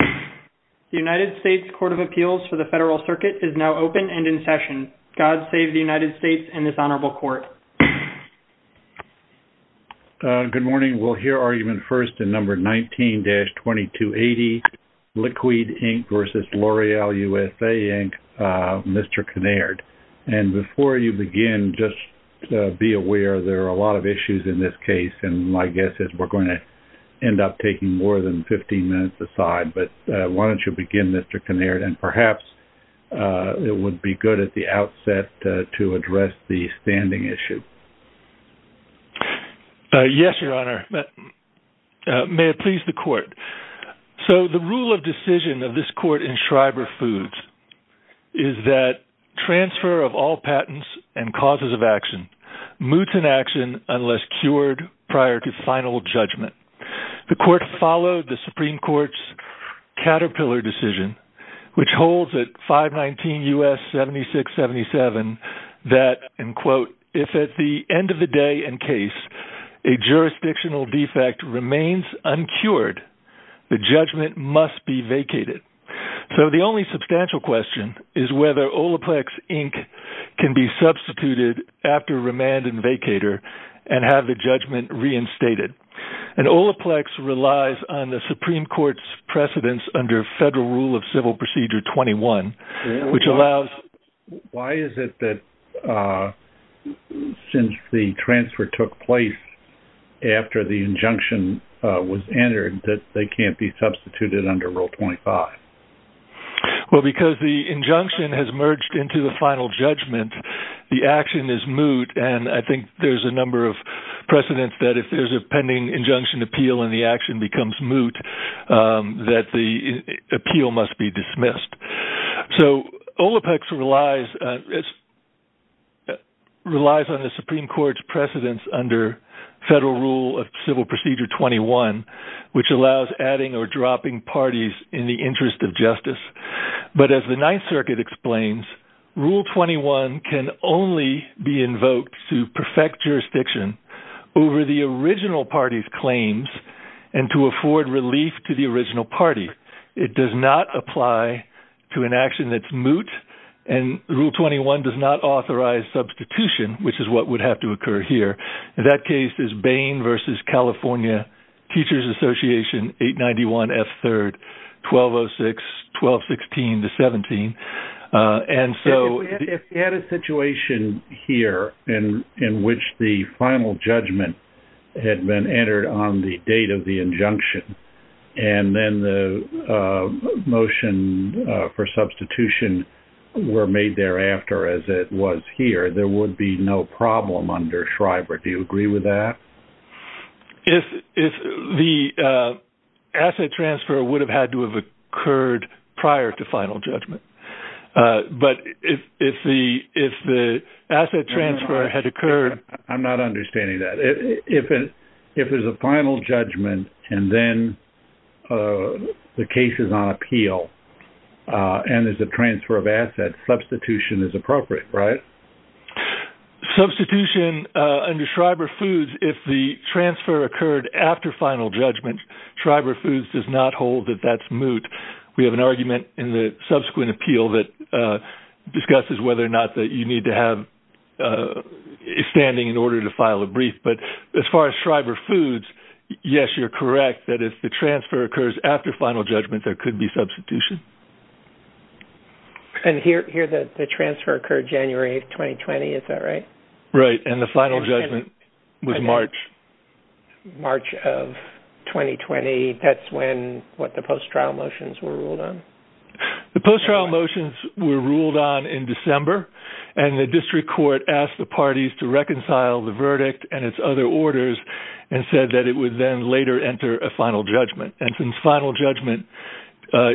The United States Court of Appeals for the Federal Circuit is now open and in session. God save the United States and this honorable court. Good morning. We'll hear argument first in number 19-2280, Leqwd, Inc. v. L'Oreal USA, Inc., Mr. Kinnaird. And before you begin, just be aware there are a lot of issues in this case, and my guess is we're going to end up taking more than 15 minutes aside. But why don't you begin, Mr. Kinnaird, and perhaps it would be good at the outset to address the standing issue. Yes, Your Honor. May it please the court. So the rule of decision of this court in Schreiber Foods is that transfer of all patents and causes of action, moots in action unless cured prior to final judgment. The court followed the Supreme Court's Caterpillar decision, which holds at 519 U.S. 7677 that, and quote, if at the end of the day in case a jurisdictional defect remains uncured, the judgment must be vacated. So the only substantial question is whether Olaplex, Inc. can be substituted after remand and vacator and have the judgment reinstated. And Olaplex relies on the Supreme Court's precedence under Federal Rule of Civil Procedure 21, which allows... Why is it that since the transfer took place after the injunction was entered that they can't be substituted under Rule 25? Well, because the injunction has merged into the final judgment, the action is moot, and I think there's a number of precedents that if there's a pending injunction appeal and the action becomes moot, that the appeal must be dismissed. So Olaplex relies on the Supreme Court's precedence under Federal Rule of Civil Procedure 21, which allows adding or dropping parties in the interest of justice. But as the Ninth Circuit explains, Rule 21 can only be invoked to perfect jurisdiction over the original party's claims and to afford relief to the original party. It does not apply to an action that's moot, and Rule 21 does not authorize substitution, which is what would have to occur here. That case is Bain v. California Teachers Association, 891 S. 3rd, 1206, 1216 to 17. And so... If we had a situation here in which the final judgment had been entered on the date of the injunction and then the motion for substitution were made thereafter as it was here, there would be no problem under Schreiber. Do you agree with that? If the asset transfer would have had to have occurred prior to final judgment. But if the asset transfer had occurred... I'm not understanding that. If there's a final judgment and then the case is on appeal and there's a transfer of assets, substitution is appropriate, right? Substitution under Schreiber Foods, if the transfer occurred after final judgment, Schreiber Foods does not hold that that's moot. We have an argument in the subsequent appeal that discusses whether or not you need to have expanding in order to file a brief. But as far as Schreiber Foods, yes, you're correct. That if the transfer occurs after final judgment, there could be substitution. And here the transfer occurred January 2020. Is that right? Right. And the final judgment was March. March of 2020. That's when the post-trial motions were ruled on. The post-trial motions were ruled on in December. And the district court asked the parties to reconcile the verdict and its other orders and said that it would then later enter a final judgment. And since final judgment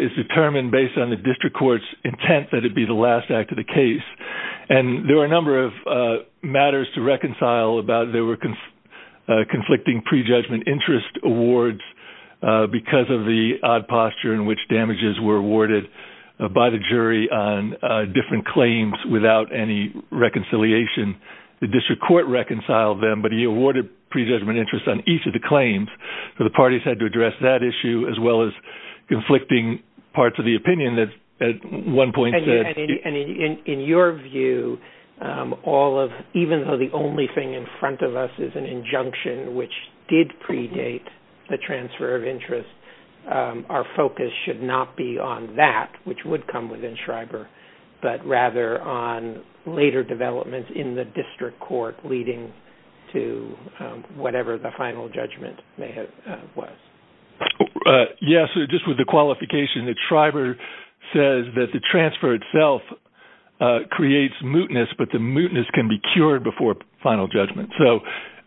is determined based on the district court's intent that it be the last act of the case, and there were a number of matters to reconcile about. There were conflicting prejudgment interest awards because of the odd posture in which damages were awarded by the jury on different claims without any reconciliation. The district court reconciled them, but he awarded prejudgment interest on each of the claims. So the parties had to address that issue as well as conflicting parts of the opinion that at one point said. And in your view, all of, even though the only thing in front of us is an injunction, which did predate the transfer of interest, our focus should not be on that, which would come within Schreiber, but rather on later development in the district court leading to whatever the final judgment was. Yes, just with the qualification that Schreiber says that the transfer itself creates mootness, but the mootness can be cured before final judgment.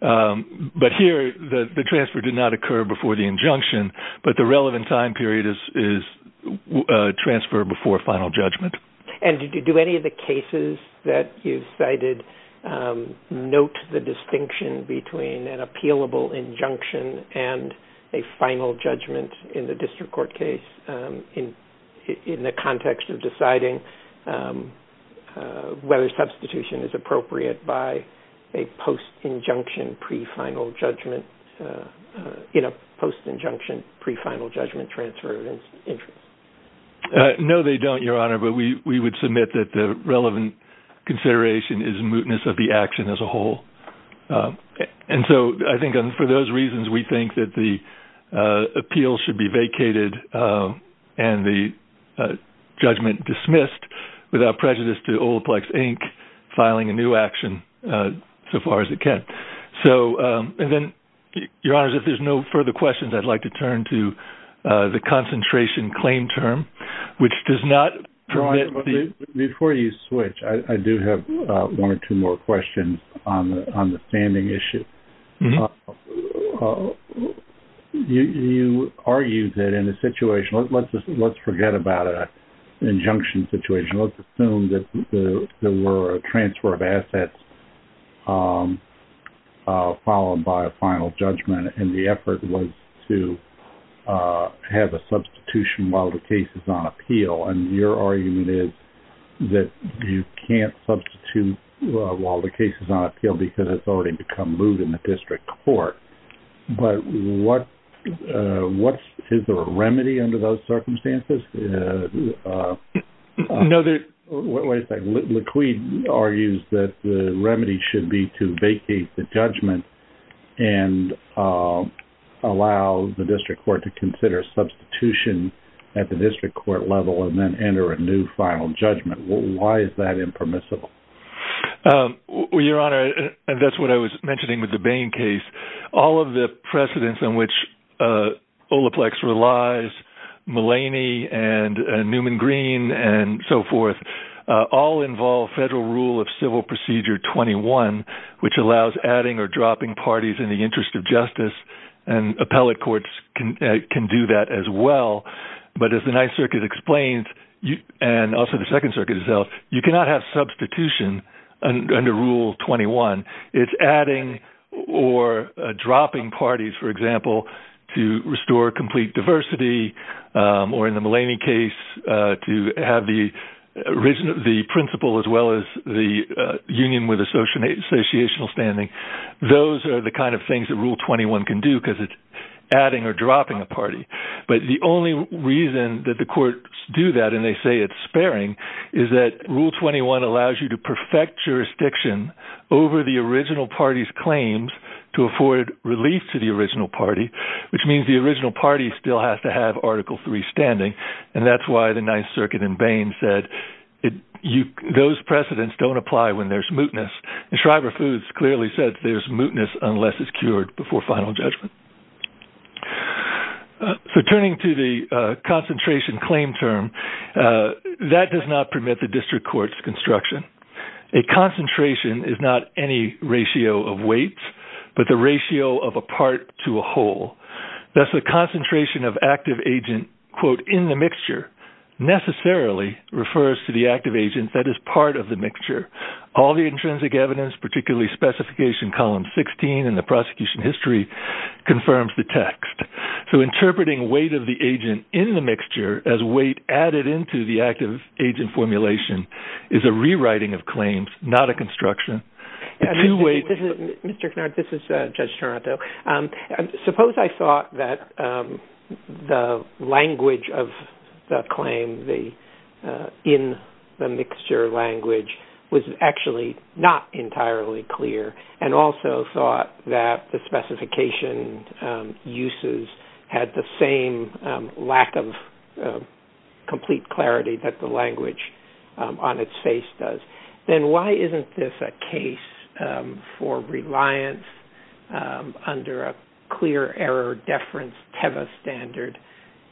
But here, the transfer did not occur before the injunction, but the relevant time period is transfer before final judgment. And do any of the cases that you've cited note the distinction between an appealable injunction and a final judgment in the district court case in the context of deciding whether substitution is appropriate by a post-injunction pre-final judgment, in a post-injunction pre-final judgment transfer of interest? No, they don't, Your Honor, but we would submit that the relevant consideration is mootness of the action as a whole. And so I think for those reasons, we think that the appeal should be vacated and the judgment dismissed without prejudice to Olaplex, Inc. filing a new action so far as it can. And then, Your Honor, if there's no further questions, I'd like to turn to the concentration claim term, which does not permit the- on the standing issue. You argue that in a situation-let's forget about an injunction situation. Let's assume that there were a transfer of assets followed by a final judgment, and the effort was to have a substitution while the case is on appeal. And your argument is that you can't substitute while the case is on appeal because it's already become moot in the district court. But what-is there a remedy under those circumstances? No, there's- What is that? Laquid argues that the remedy should be to vacate the judgment and allow the district court to consider a substitution at the district court level and then enter a new final judgment. Why is that impermissible? Well, Your Honor, that's what I was mentioning with the Bain case. All of the precedents in which Olaplex relies, Mulaney, and Newman Green, and so forth, all involve federal rule of civil procedure 21, which allows adding or dropping parties in the interest of justice, and appellate courts can do that as well. But as the Ninth Circuit explains, and also the Second Circuit itself, you cannot have substitution under rule 21. It's adding or dropping parties, for example, to restore complete diversity or, in the Mulaney case, to have the principal as well as the union with associational standing. Those are the kind of things that rule 21 can do because it's adding or dropping a party. But the only reason that the courts do that, and they say it's sparing, is that rule 21 allows you to perfect jurisdiction over the original party's claims to afford release to the original party, which means the original party still has to have Article III standing. And that's why the Ninth Circuit in Bain said those precedents don't apply when there's mootness. And Shriver Foods clearly says there's mootness unless it's cured before final judgment. So turning to the concentration claim term, that does not permit the district court's construction. A concentration is not any ratio of weights, but the ratio of a part to a whole. Thus, the concentration of active agent, quote, in the mixture, necessarily refers to the active agent that is part of the mixture. All the intrinsic evidence, particularly Specification Column 16 in the prosecution history, confirms the text. So interpreting weight of the agent in the mixture as weight added into the active agent formulation is a rewriting of claims, not a construction. Mr. Knarp, this is Judge Taranto. Suppose I thought that the language of the claim in the mixture language was actually not entirely clear, and also thought that the specification uses had the same lack of complete clarity that the language on its face does. Then why isn't this a case for reliance under a clear error deference TEVA standard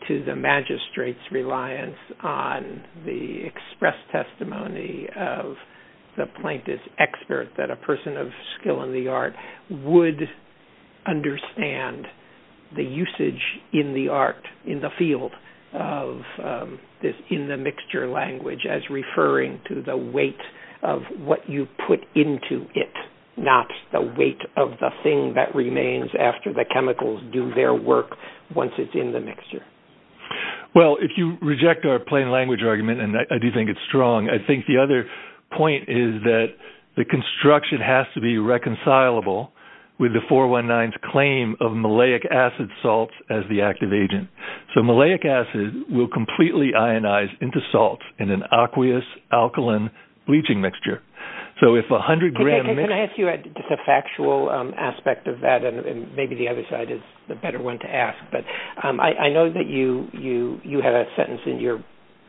to the magistrate's reliance on the express testimony of the plaintiff's expert that a person of skill in the art would understand the usage in the art, in the field of this in-the-mixture language as referring to the weight of what you put into it, not the weight of the thing that remains after the chemicals do their work once it's in the mixture? Well, if you reject our plain language argument, and I do think it's strong, I think the other point is that the construction has to be reconcilable with the 419's claim of malleic acid salts as the active agent. So malleic acid will completely ionize into salt in an aqueous alkaline bleaching mixture. Can I ask you a factual aspect of that, and maybe the other side is the better one to ask? I know that you had a sentence in your,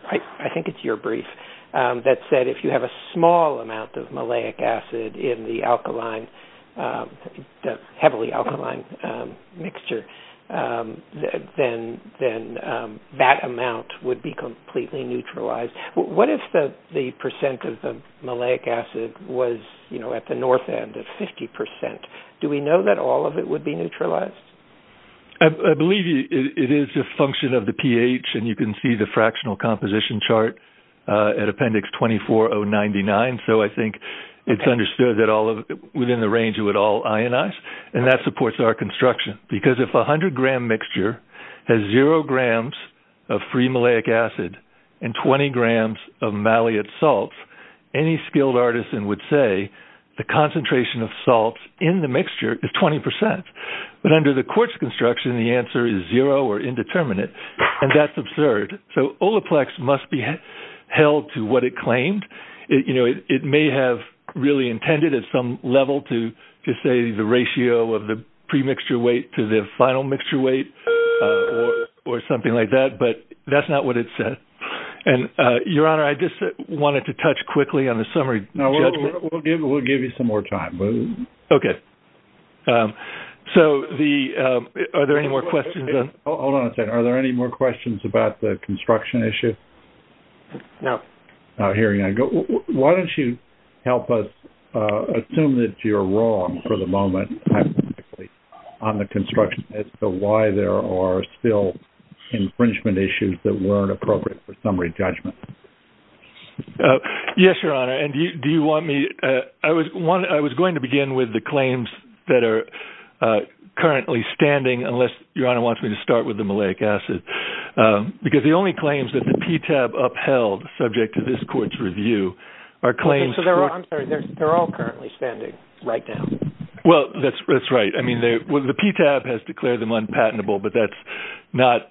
I think it's your brief, that said if you have a small amount of malleic acid in the heavily alkaline mixture, then that amount would be completely neutralized. What if the percent of the malleic acid was at the north end of 50 percent? Do we know that all of it would be neutralized? I believe it is a function of the pH, and you can see the fractional composition chart at Appendix 24099, so I think it's understood that within the range it would all ionize, and that supports our construction. Because if a 100-gram mixture has zero grams of free malleic acid and 20 grams of malleate salts, any skilled artisan would say the concentration of salts in the mixture is 20 percent. But under the quartz construction, the answer is zero or indeterminate, and that's absurd. So Olaplex must be held to what it claimed. It may have really intended at some level to say the ratio of the pre-mixture weight to the final mixture weight or something like that, but that's not what it said. And, Your Honor, I just wanted to touch quickly on the summary judgment. We'll give you some more time. Okay. So are there any more questions? Hold on a second. Are there any more questions about the construction issue? No. Hearing none, why don't you help us assume that you're wrong for the moment on the construction as to why there are still infringement issues that weren't appropriate for summary judgment? Yes, Your Honor, and do you want me to – I was going to begin with the claims that are currently standing, unless Your Honor wants me to start with the malleic acid, because the only claims that the PTAB upheld subject to this court's review are claims – I'm sorry. They're all currently standing right now. Well, that's right. I mean, the PTAB has declared them unpatentable, but that's not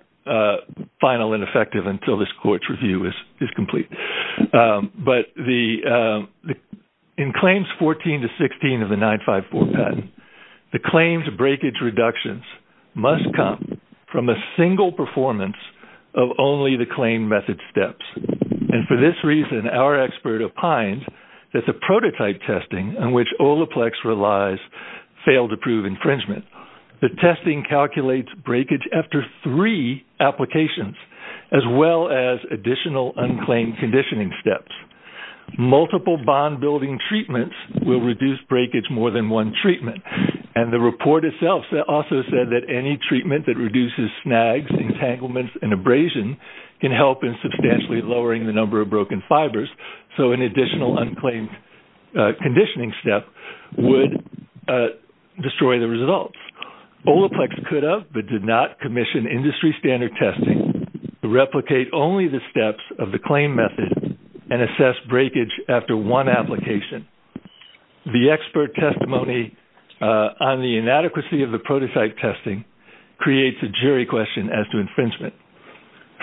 final and effective until this court's review is complete. But in claims 14 to 16 of the 954 patent, the claims' breakage reductions must come from a single performance of only the claim method steps. And for this reason, our expert opines that the prototype testing on which Olaplex relies failed to prove infringement. The testing calculates breakage after three applications, as well as additional unclaimed conditioning steps. Multiple bond-building treatments will reduce breakage more than one treatment. And the report itself also said that any treatment that reduces snags, entanglements, and abrasion can help in substantially lowering the number of broken fibers, so an additional unclaimed conditioning step would destroy the results. Olaplex could have but did not commission industry standard testing to replicate only the steps of the claim method and assess breakage after one application. The expert testimony on the inadequacy of the prototype testing creates a jury question as to infringement.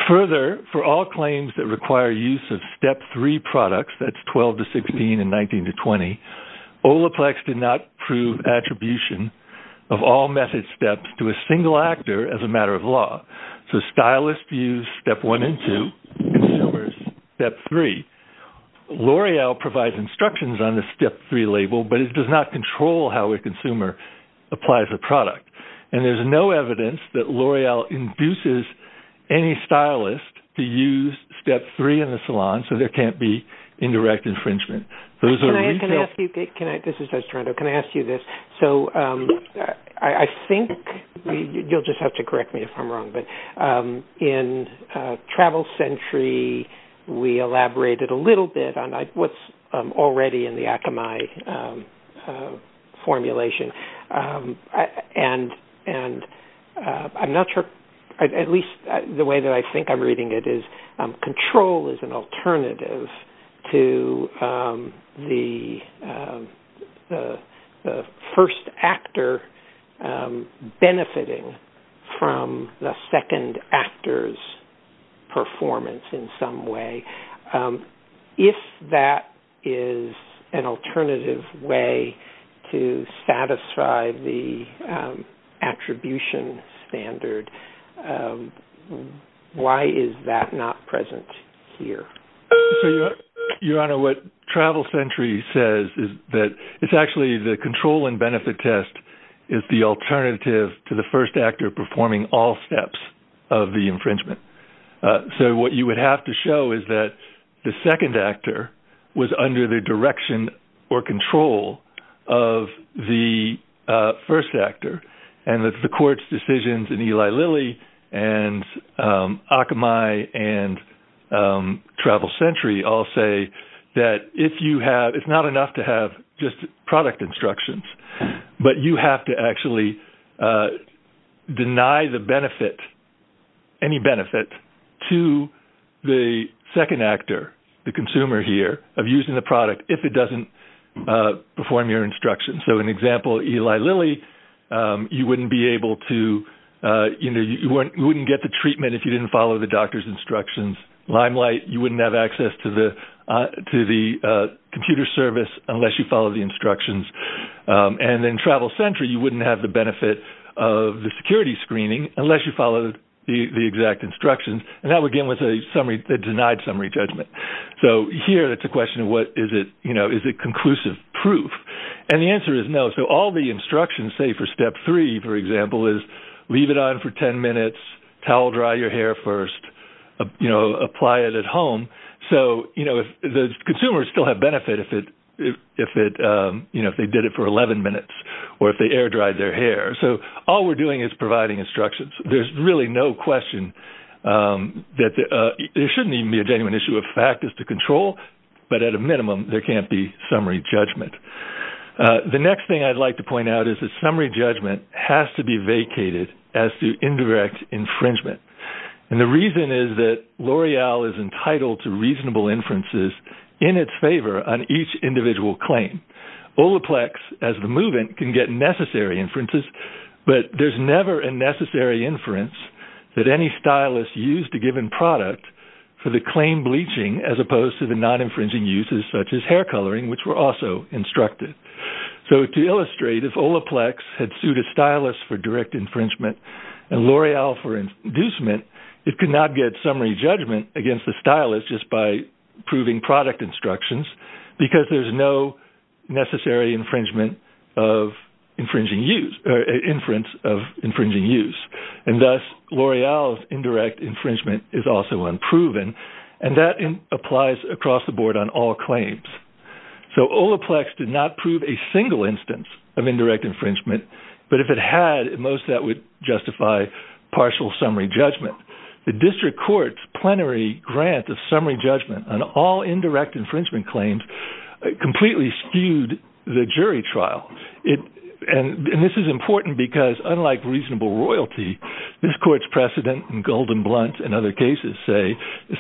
Further, for all claims that require use of Step 3 products, that's 12 to 16 and 19 to 20, Olaplex did not prove attribution of all method steps to a single actor as a matter of law. So stylists use Step 1 and 2, consumers Step 3. L'Oreal provides instructions on the Step 3 label, but it does not control how a consumer applies a product. And there's no evidence that L'Oreal induces any stylist to use Step 3 in the salon, so there can't be indirect infringement. Can I ask you this? So I think you'll just have to correct me if I'm wrong, but in Travel Sentry, we elaborated a little bit on what's already in the Akamai formulation, and at least the way that I think I'm reading it is control is an alternative to the first actor benefiting from the second actor's performance in some way. If that is an alternative way to satisfy the attribution standard, why is that not present here? Your Honor, what Travel Sentry says is that it's actually the control and benefit test is the alternative to the first actor performing all steps of the infringement. So what you would have to show is that the second actor was under the direction or control of the first actor. And the court's decisions in Eli Lilly and Akamai and Travel Sentry all say that it's not enough to have just product instructions, but you have to actually deny any benefit to the second actor, the consumer here, of using the product if it doesn't perform your instructions. So an example, Eli Lilly, you wouldn't get the treatment if you didn't follow the doctor's instructions. Limelight, you wouldn't have access to the computer service unless you followed the instructions. And in Travel Sentry, you wouldn't have the benefit of the security screening unless you followed the exact instructions. And that would begin with a denied summary judgment. So here it's a question of is it conclusive proof? And the answer is no. So all the instructions say for step three, for example, is leave it on for 10 minutes, towel-dry your hair first, apply it at home. So the consumers still have benefit if they did it for 11 minutes or if they air-dried their hair. So all we're doing is providing instructions. There's really no question that there shouldn't even be a genuine issue. A fact is to control, but at a minimum, there can't be summary judgment. The next thing I'd like to point out is that summary judgment has to be vacated as the indirect infringement. And the reason is that L'Oreal is entitled to reasonable inferences in its favor on each individual claim. Olaplex, as the move-in, can get necessary inferences, but there's never a necessary inference that any stylist used a given product for the claim bleaching as opposed to the non-infringing uses, such as hair coloring, which were also instructed. So to illustrate, if Olaplex had sued a stylist for direct infringement and L'Oreal for inducement, it could not get summary judgment against the stylist just by proving product instructions because there's no necessary infringement of infringing use or inference of infringing use. And thus, L'Oreal's indirect infringement is also unproven, and that applies across the board on all claims. So Olaplex did not prove a single instance of indirect infringement, but if it had, most of that would justify partial summary judgment. The district court's plenary grant of summary judgment on all indirect infringement claims completely skewed the jury trial. And this is important because, unlike reasonable royalty, this court's precedent and golden blunts in other cases say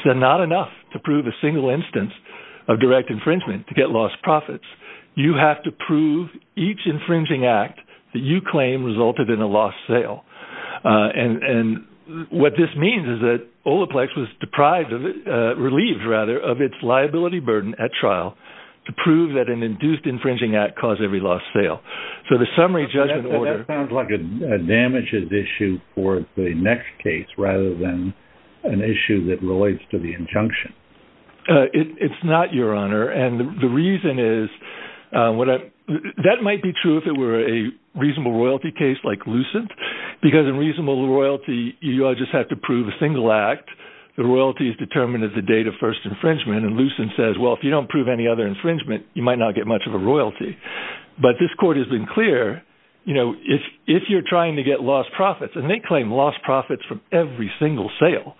not enough to prove a single instance of direct infringement to get lost profits. You have to prove each infringing act that you claim resulted in a lost sale. And what this means is that Olaplex was deprived, relieved rather, of its liability burden at trial to prove that an induced infringing act caused every lost sale. That sounds like a damages issue for the next case rather than an issue that relates to the injunction. It's not, Your Honor. And the reason is that might be true if it were a reasonable royalty case like Lucent because in reasonable royalty, you just have to prove a single act. The royalty is determined at the date of first infringement. And Lucent says, well, if you don't prove any other infringement, you might not get much of a royalty. But this court has been clear, you know, if you're trying to get lost profits, and they claim lost profits from every single sale.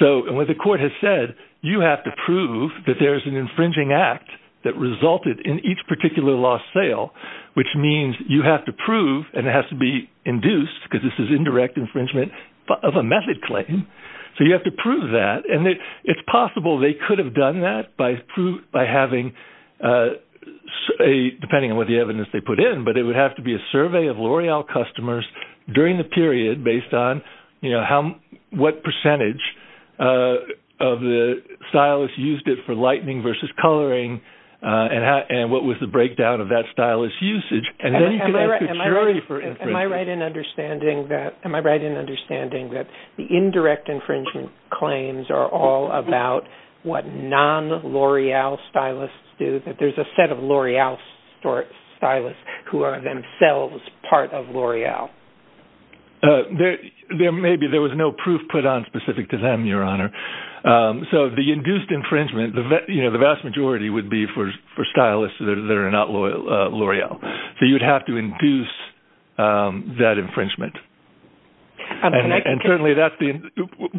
So what the court has said, you have to prove that there's an infringing act that resulted in each particular lost sale, which means you have to prove and it has to be induced because this is indirect infringement of a method claim. So you have to prove that. And it's possible they could have done that by having, depending on what the evidence they put in, but it would have to be a survey of L'Oreal customers during the period based on, you know, what percentage of the stylists used it for lightening versus coloring and what was the breakdown of that stylist's usage. Am I right in understanding that the indirect infringement claims are all about what non-L'Oreal stylists do, that there's a set of L'Oreal stylists who are themselves part of L'Oreal? There may be. There was no proof put on specific to them, Your Honor. So the induced infringement, you know, the vast majority would be for stylists that are not L'Oreal. So you'd have to induce that infringement. And certainly that's the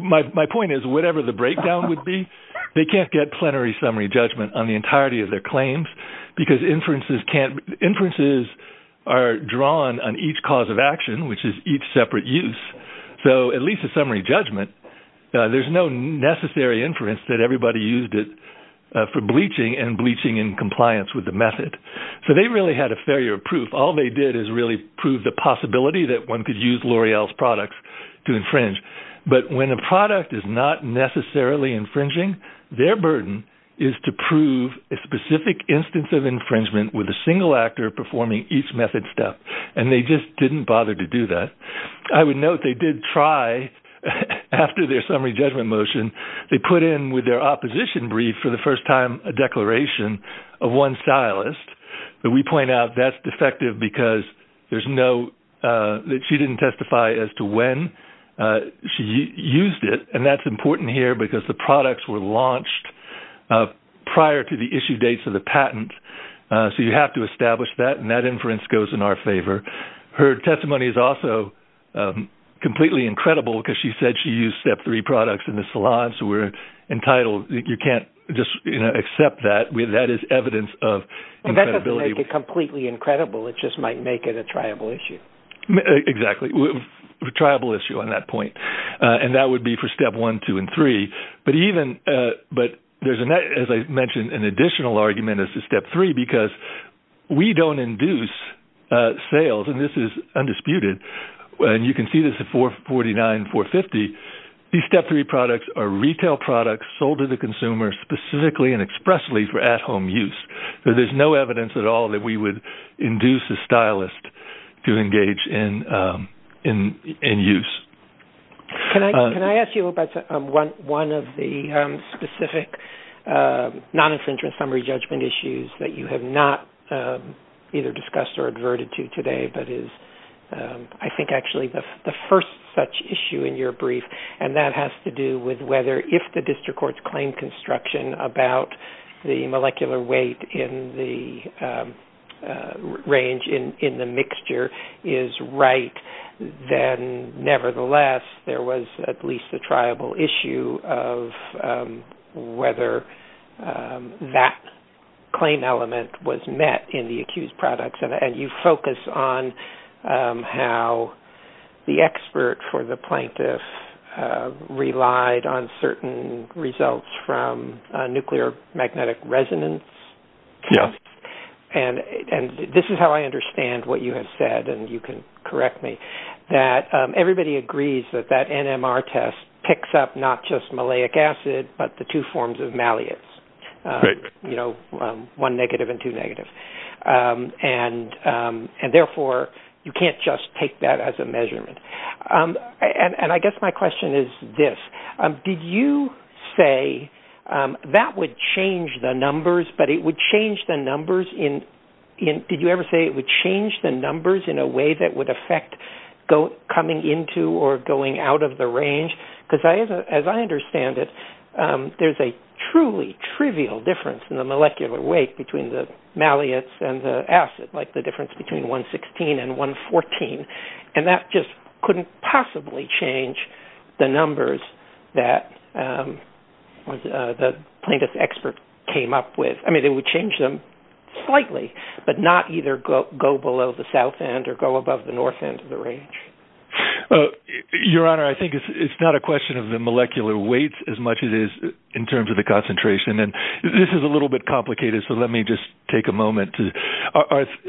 – my point is whatever the breakdown would be, they can't get plenary summary judgment on the entirety of their claims because inferences can't – inferences are drawn on each cause of action, which is each separate use. So at least a summary judgment, there's no necessary inference that everybody used it for bleaching and bleaching in compliance with the method. So they really had a failure proof. All they did is really prove the possibility that one could use L'Oreal's products to infringe. But when a product is not necessarily infringing, their burden is to prove a specific instance of infringement with a single actor performing each method step. And they just didn't bother to do that. I would note they did try, after their summary judgment motion, they put in with their opposition brief for the first time a declaration of one stylist. But we point out that's defective because there's no – that she didn't testify as to when she used it. And that's important here because the products were launched prior to the issue dates of the patent. So you have to establish that, and that inference goes in our favor. Her testimony is also completely incredible because she said she used Step 3 products in the salon. So we're entitled – you can't just accept that. That is evidence of credibility. That doesn't make it completely incredible. It just might make it a triable issue. Exactly, a triable issue on that point. And that would be for Step 1, 2, and 3. But there's, as I mentioned, an additional argument as to Step 3 because we don't induce sales, and this is undisputed. And you can see this at 449, 450. These Step 3 products are retail products sold to the consumer specifically and expressly for at-home use. So there's no evidence at all that we would induce a stylist to engage in use. Can I ask you about one of the specific non-infringement summary judgment issues that you have not either discussed or adverted to today but is I think actually the first such issue in your brief, And that has to do with whether if the district court's claim construction about the molecular weight in the range in the mixture is right, then nevertheless there was at least a triable issue of whether that claim element was met in the accused products. And you focus on how the expert for the plaintiff relied on certain results from nuclear magnetic resonance. Yes. And this is how I understand what you have said, and you can correct me, that everybody agrees that that NMR test picks up not just maleic acid but the two forms of malleates, you know, one negative and two negatives. And therefore you can't just take that as a measurement. And I guess my question is this. Did you say that would change the numbers but it would change the numbers in a way that would affect coming into or going out of the range? Because as I understand it, there's a truly trivial difference in the molecular weight between the malleates and the acid, like the difference between 116 and 114. And that just couldn't possibly change the numbers that the plaintiff's expert came up with. I mean, it would change them slightly but not either go below the south end or go above the north end of the range. Your Honor, I think it's not a question of the molecular weight as much as it is in terms of the concentration. And this is a little bit complicated, so let me just take a moment.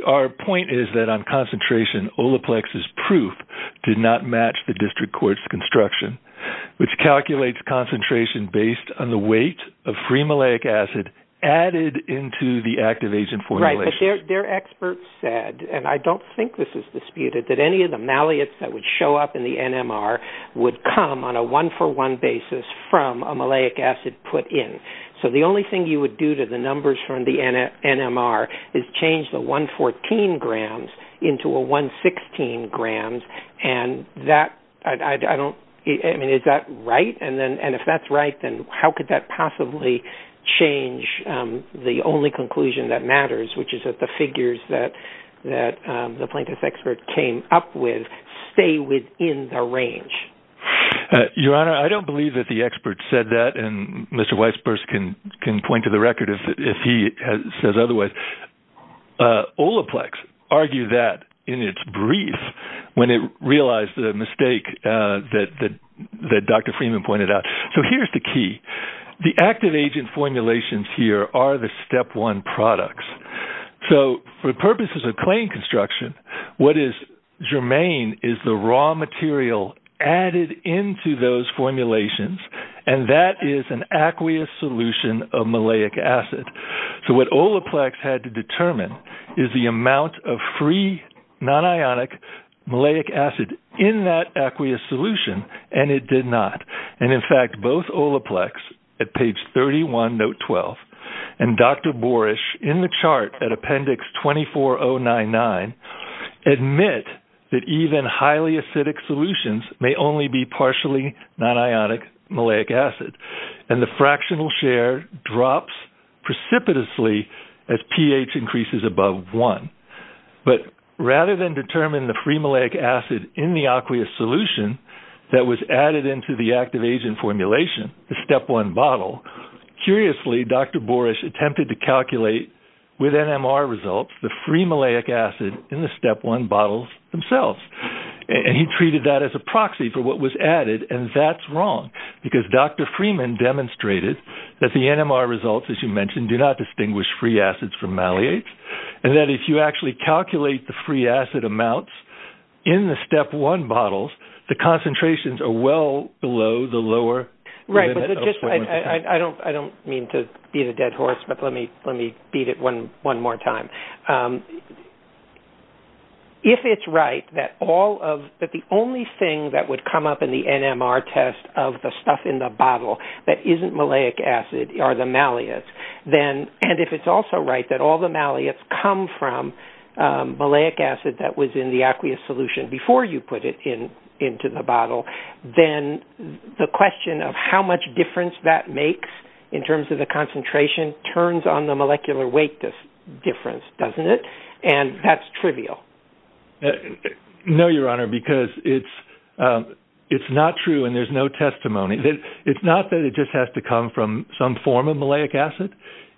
Our point is that on concentration, Olaplex's proof did not match the district court's construction, which calculates concentration based on the weight of free malleic acid added into the activation formulation. But their expert said, and I don't think this is disputed, that any of the malleates that would show up in the NMR would come on a one-for-one basis from a malleic acid put in. So the only thing you would do to the numbers from the NMR is change the 114 grams into a 116 grams. I mean, is that right? And if that's right, then how could that possibly change the only conclusion that matters, which is that the figures that the plaintiff's expert came up with stay within the range? Your Honor, I don't believe that the expert said that, and Mr. Weisburst can point to the record if he says otherwise. Olaplex argued that in its brief when it realized the mistake that Dr. Freeman pointed out. So here's the key. The active agent formulations here are the step one products. So for purposes of claim construction, what is germane is the raw material added into those formulations, and that is an aqueous solution of malleic acid. So what Olaplex had to determine is the amount of free non-ionic malleic acid in that aqueous solution, and it did not. And, in fact, both Olaplex at page 31, note 12, and Dr. Borish in the chart at appendix 24.099 admit that even highly acidic solutions may only be partially non-ionic malleic acid, and the fractional share drops precipitously as pH increases above one. But rather than determine the free malleic acid in the aqueous solution that was added into the active agent formulation, the step one bottle, curiously Dr. Borish attempted to calculate with NMR results the free malleic acid in the step one bottles themselves. And he treated that as a proxy for what was added, and that's wrong because Dr. Freeman demonstrated that the NMR results, as you mentioned, do not distinguish free acids from malleates, and that if you actually calculate the free acid amounts in the step one bottles, the concentrations are well below the lower... Right, but I don't mean to be the dead horse, but let me beat it one more time. If it's right that the only thing that would come up in the NMR test of the stuff in the bottle that isn't malleic acid are the malleates, and if it's also right that all the malleates come from malleic acid that was in the aqueous solution before you put it into the bottle, then the question of how much difference that makes in terms of the concentration turns on the molecular weight difference, doesn't it? And that's trivial. No, Your Honor, because it's not true and there's no testimony. It's not that it just has to come from some form of malleic acid.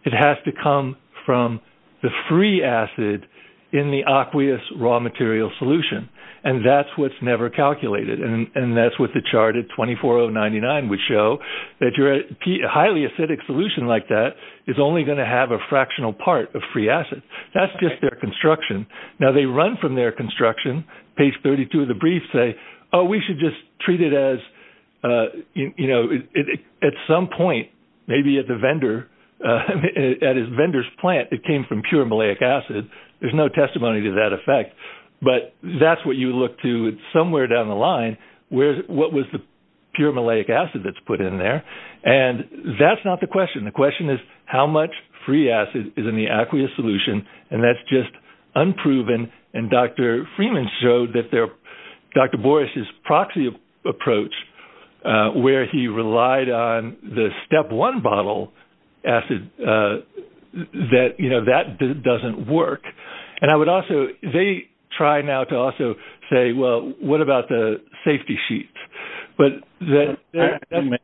It has to come from the free acid in the aqueous raw material solution, and that's what's never calculated, and that's what the chart at 24,099 would show, that your highly acidic solution like that is only going to have a fractional part of free acid. That's just their construction. Now, they run from their construction. Page 32 of the brief say, oh, we should just treat it as, you know, at some point, maybe at the vendor, at a vendor's plant, it came from pure malleic acid. There's no testimony to that effect, but that's what you look to somewhere down the line. What was the pure malleic acid that's put in there? And that's not the question. The question is how much free acid is in the aqueous solution, and that's just unproven, and Dr. Freeman showed that Dr. Boris's proxy approach, where he relied on the step one bottle acid, that, you know, that doesn't work. And I would also – they try now to also say, well, what about the safety sheets? I think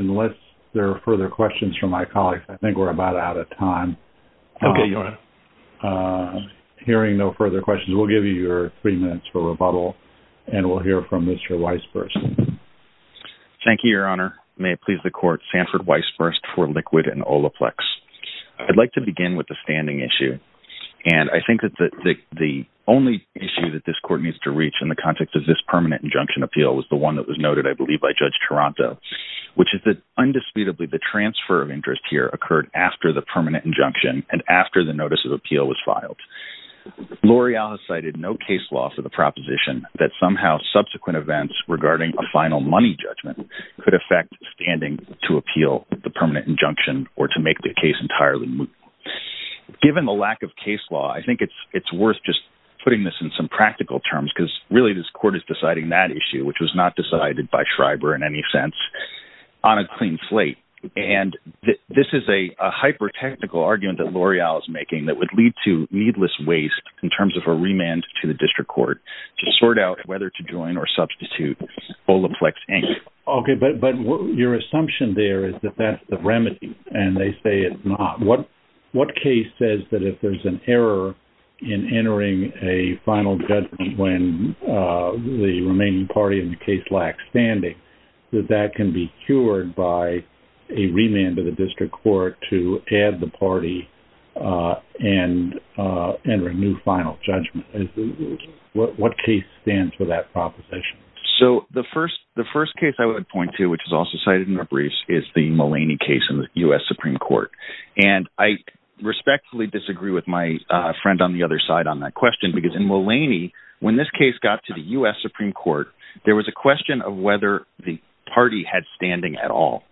unless there are further questions from my colleagues, I think we're about out of time. Hearing no further questions, we'll give you your three minutes for rebuttal, and we'll hear from Mr. Weisburst. Thank you, Your Honor. May it please the court, Sanford Weisburst for Liquid and Olaplex. I'd like to begin with the standing issue, and I think that the only issue that this court needs to reach in the context of this permanent injunction appeal is the one that was noted, I believe, by Judge Taranto, which is that undisputably the transfer of interest here occurred after the permanent injunction and after the notice of appeal was filed. L'Oreal has cited no case law for the proposition that somehow subsequent events regarding a final money judgment could affect standing to appeal the permanent injunction or to make the case entirely moot. Given the lack of case law, I think it's worth just putting this in some practical terms, because really this court is deciding that issue, which was not decided by Schreiber in any sense, on a clean slate. And this is a hyper-technical argument that L'Oreal is making that would lead to needless waste in terms of a remand to the district court to sort out whether to join or substitute Olaplex, Inc. Okay, but your assumption there is that that's the remedy, and they say it's not. What case says that if there's an error in entering a final judgment when the remaining party in the case lacks standing, that that can be cured by a remand to the district court to add the party and enter a new final judgment? What case stands for that proposition? So the first case I would point to, which is also cited in the briefs, is the Mulaney case in the U.S. Supreme Court. And I respectfully disagree with my friend on the other side on that question, because in Mulaney, when this case got to the U.S. Supreme Court, there was a question of whether the party had standing at all.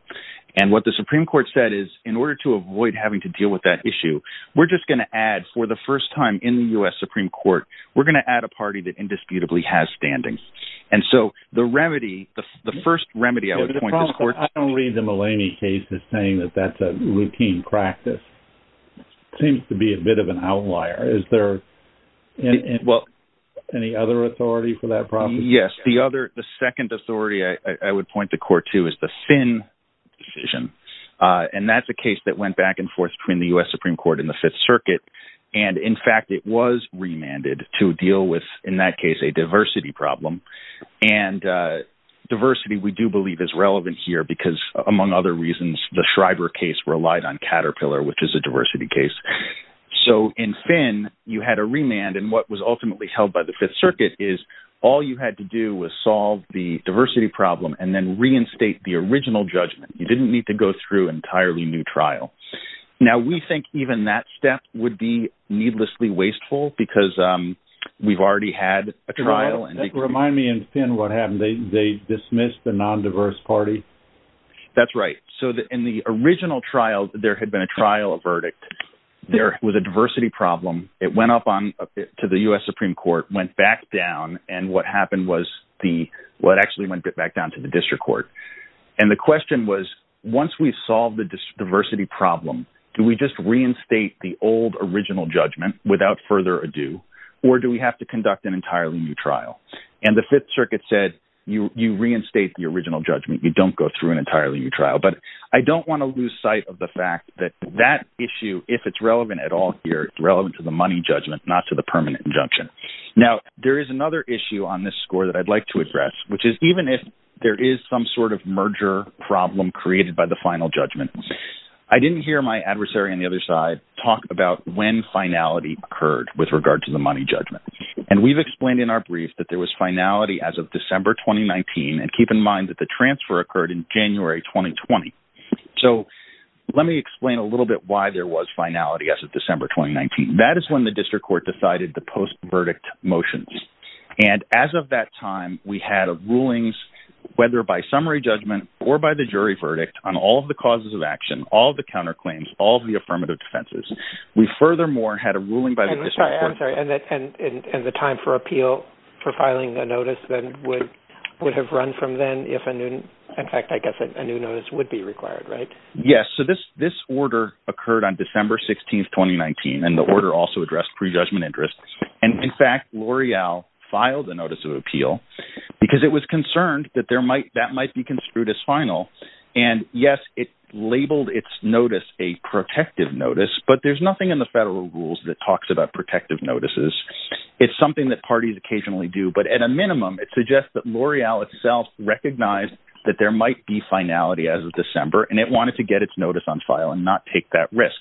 And what the Supreme Court said is, in order to avoid having to deal with that issue, we're just going to add, for the first time in the U.S. Supreme Court, we're going to add a party that indisputably has standing. And so the remedy, the first remedy I would point to is court. I don't read the Mulaney case as saying that that's a routine practice. It seems to be a bit of an outlier. Is there any other authority for that proposition? Yes. The second authority I would point to, Court, too, is the Finn decision. And that's a case that went back and forth between the U.S. Supreme Court and the Fifth Circuit. And, in fact, it was remanded to deal with, in that case, a diversity problem. And diversity, we do believe, is relevant here because, among other reasons, the Schreiber case relied on Caterpillar, which is a diversity case. So, in Finn, you had a remand. And what was ultimately held by the Fifth Circuit is all you had to do was solve the diversity problem and then reinstate the original judgment. You didn't need to go through an entirely new trial. Now, we think even that step would be needlessly wasteful because we've already had a trial. Remind me in Finn what happened. They dismissed the non-diverse party? That's right. So, in the original trial, there had been a trial verdict. There was a diversity problem. It went up to the U.S. Supreme Court, went back down, and what happened was the – well, it actually went back down to the district court. And the question was, once we solve the diversity problem, do we just reinstate the old original judgment without further ado, or do we have to conduct an entirely new trial? And the Fifth Circuit said, you reinstate the original judgment. You don't go through an entirely new trial. But I don't want to lose sight of the fact that that issue, if it's relevant at all here, it's relevant to the money judgment, not to the permanent injunction. Now, there is another issue on this score that I'd like to address, which is even if there is some sort of merger problem created by the final judgment, I didn't hear my adversary on the other side talk about when finality occurred with regard to the money judgment. And we've explained in our brief that there was finality as of December 2019, and keep in mind that the transfer occurred in January 2020. So, let me explain a little bit why there was finality as of December 2019. That is when the district court decided the post-verdict motions. And as of that time, we had rulings, whether by summary judgment or by the jury verdict, on all of the causes of action, all of the counterclaims, all of the affirmative defenses. We furthermore had a ruling by the district court. I'm sorry. And the time for appeal for filing the notice then would have run from then if, in fact, I guess a new notice would be required, right? Yes. So, this order occurred on December 16, 2019. And the order also addressed prejudgment interests. And, in fact, L'Oreal filed a notice of appeal because it was concerned that that might be construed as final. And, yes, it labeled its notice a protective notice, but there's nothing in the federal rules that talks about protective notices. It's something that parties occasionally do, but at a minimum, it suggests that L'Oreal itself recognized that there might be finality as of December, and it wanted to get its notice on file and not take that risk.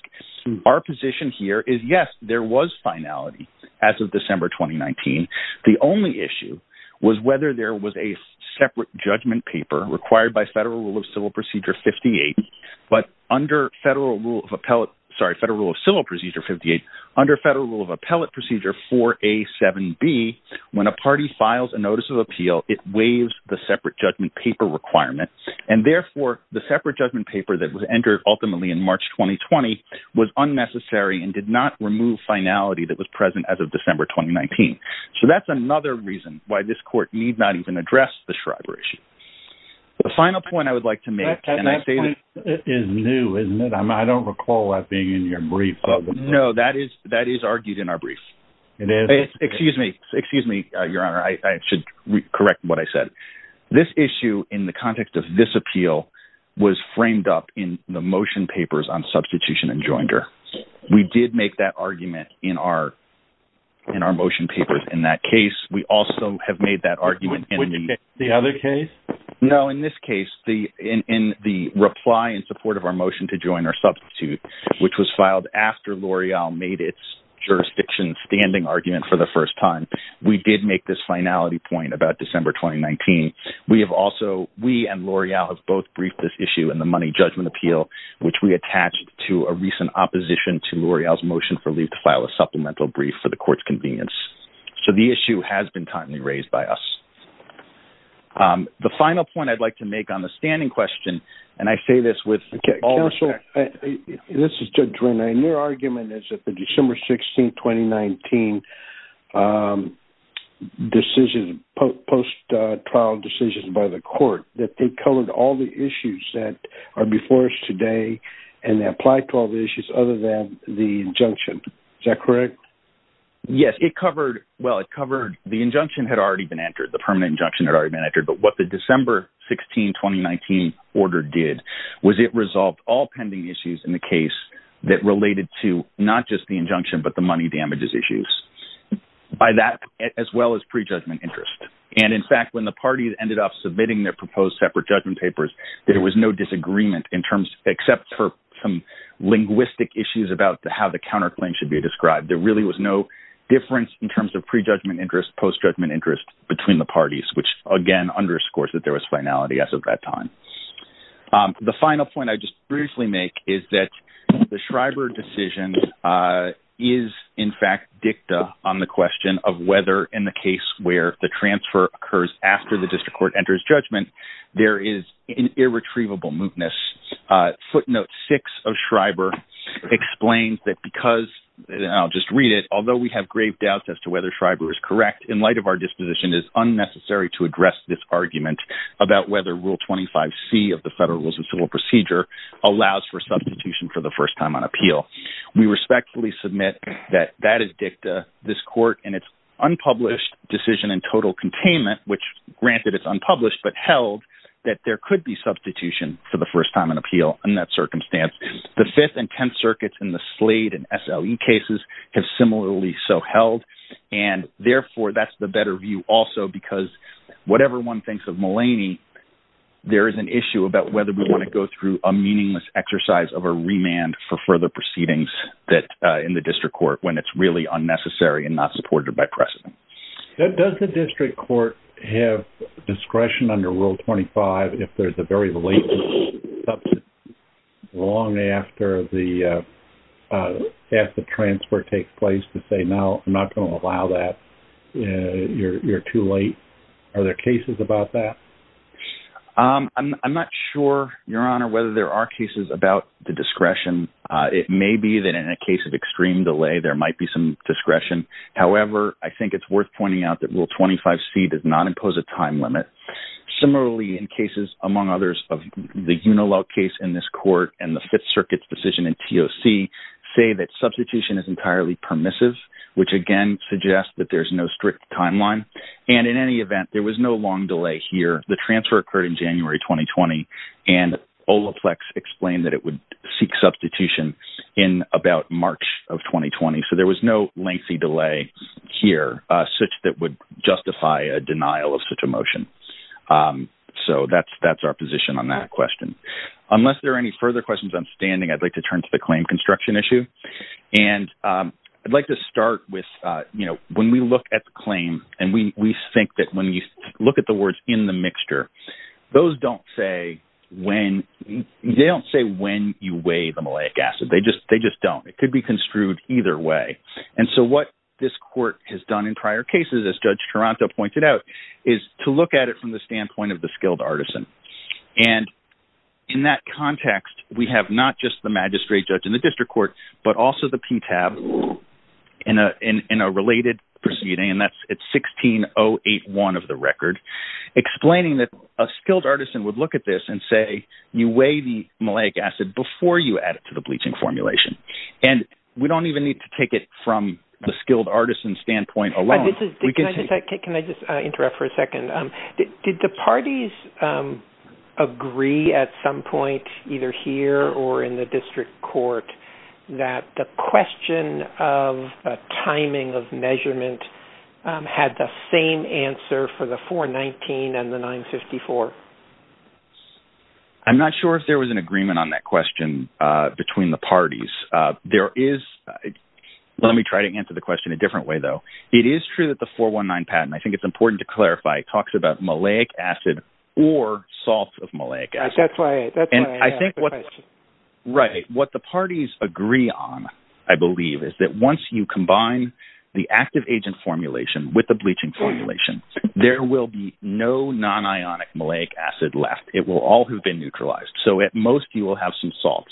Our position here is, yes, there was finality as of December 2019. The only issue was whether there was a separate judgment paper required by Federal Rule of Civil Procedure 58. But under Federal Rule of Appellate – sorry, Federal Rule of Civil Procedure 58, under Federal Rule of Appellate Procedure 4A7B, when a party files a notice of appeal, it waives the separate judgment paper requirement. And, therefore, the separate judgment paper that was entered ultimately in March 2020 was unnecessary and did not remove finality that was present as of December 2019. So that's another reason why this Court need not even address the Schreiber issue. The final point I would like to make – That point is new, isn't it? I don't recall that being in your brief. No, that is argued in our brief. It is? Excuse me. Excuse me, Your Honor. I should correct what I said. This issue, in the context of this appeal, was framed up in the motion papers on substitution and joinder. We did make that argument in our motion papers in that case. We also have made that argument in the – The other case? No, in this case, in the reply in support of our motion to join or substitute, which was filed after L'Oreal made its jurisdiction standing argument for the first time, we did make this finality point about December 2019. We have also – we and L'Oreal have both briefed this issue in the Money Judgment Appeal, which we attached to a recent opposition to L'Oreal's motion for leave to file a supplemental brief for the Court's convenience. So the issue has been timely raised by us. The final point I'd like to make on the standing question, and I say this with all respect – this is a post-trial decision by the Court that they covered all the issues that are before us today and applied to all the issues other than the injunction. Is that correct? Yes, it covered – well, it covered – the injunction had already been entered, the permanent injunction had already been entered, but what the December 16, 2019 order did was it resolved all pending issues in the case that related to not just the injunction but the money damages issues. By that, as well as prejudgment interest. And, in fact, when the parties ended up submitting their proposed separate judgment papers, there was no disagreement in terms – except for some linguistic issues about how the counterclaim should be described. There really was no difference in terms of prejudgment interest, post-judgment interest between the parties, which, again, underscores that there was finality as of that time. The final point I'd just briefly make is that the Schreiber decision is, in fact, dicta on the question of whether, in the case where the transfer occurs after the district court enters judgment, there is an irretrievable mootness. Footnote 6 of Schreiber explains that because – and I'll just read it – although we have grave doubts as to whether Schreiber is correct, in light of our disposition, it is unnecessary to address this argument about whether Rule 25C of the Federal Rules of Civil Procedure allows for substitution for the first time on appeal. We respectfully submit that that is dicta. This court, in its unpublished decision in total containment, which, granted, it's unpublished but held, that there could be substitution for the first time on appeal in that circumstance. The Fifth and Tenth Circuits in the Slade and SLE cases have similarly so held, and, therefore, that's the better view also because, whatever one thinks of Mulaney, there is an issue about whether we want to go through a meaningless exercise of a remand for further proceedings in the district court when it's really unnecessary and not supported by precedent. Does the district court have discretion under Rule 25 if there's a very late substitution, long after the transfer takes place, to say, no, I'm not going to allow that, you're too late? Are there cases about that? I'm not sure, Your Honor, whether there are cases about the discretion. It may be that, in a case of extreme delay, there might be some discretion. However, I think it's worth pointing out that Rule 25C does not impose a time limit. Similarly, in cases, among others, of the Unilog case in this court and the Fifth Circuit's decision in TOC, say that substitution is entirely permissive, which, again, suggests that there's no strict timeline. And, in any event, there was no long delay here. The transfer occurred in January 2020, and Olaflex explained that it would seek substitution in about March of 2020. So there was no lengthy delay here such that would justify a denial of such a motion. So that's our position on that question. Unless there are any further questions, I'm standing. I'd like to turn to the claim construction issue. And I'd like to start with, you know, when we look at the claim, and we think that when we look at the words in the mixture, those don't say when you weigh the maleic acid. They just don't. It could be construed either way. And so what this court has done in prior cases, as Judge Taranto pointed out, is to look at it from the standpoint of the skilled artisan. And in that context, we have not just the magistrate judge in the district court, but also the PTAB in a related proceeding, and that's at 16081 of the record, explaining that a skilled artisan would look at this and say, you weigh the maleic acid before you add it to the bleaching formulation. And we don't even need to take it from the skilled artisan standpoint alone. Can I just interrupt for a second? Did the parties agree at some point, either here or in the district court, that the question of timing of measurement had the same answer for the 419 and the 954? I'm not sure if there was an agreement on that question between the parties. There is. Let me try to answer the question a different way, though. It is true that the 419 patent, I think it's important to clarify, talks about maleic acid or salts of maleic acid. That's right. Right. What the parties agree on, I believe, is that once you combine the active agent formulation with the bleaching formulation, there will be no non-ionic maleic acid left. It will all have been neutralized. So at most, you will have some salts.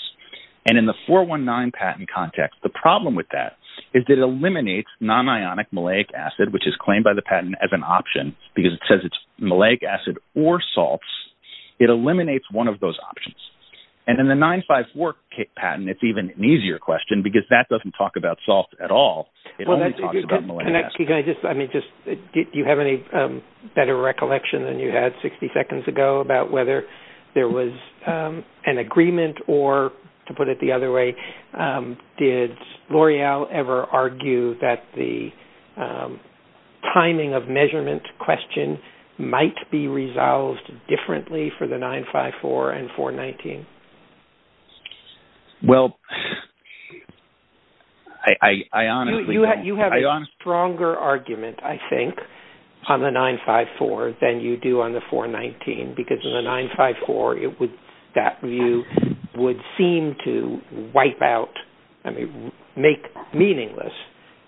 And in the 419 patent context, the problem with that is it eliminates non-ionic maleic acid, which is claimed by the patent as an option because it says it's maleic acid or salts. It eliminates one of those options. And in the 954 patent, it's even an easier question because that doesn't talk about salts at all. It only talks about maleic acid. Do you have any better recollection than you had 60 seconds ago about whether there was an agreement or, to put it the other way, did L'Oreal ever argue that the timing of measurement question might be resolved differently for the 954 and 419? Well, I honestly don't. You have a stronger argument, I think, on the 954 than you do on the 419 because in the 954, that view would seem to wipe out, I mean, make meaningless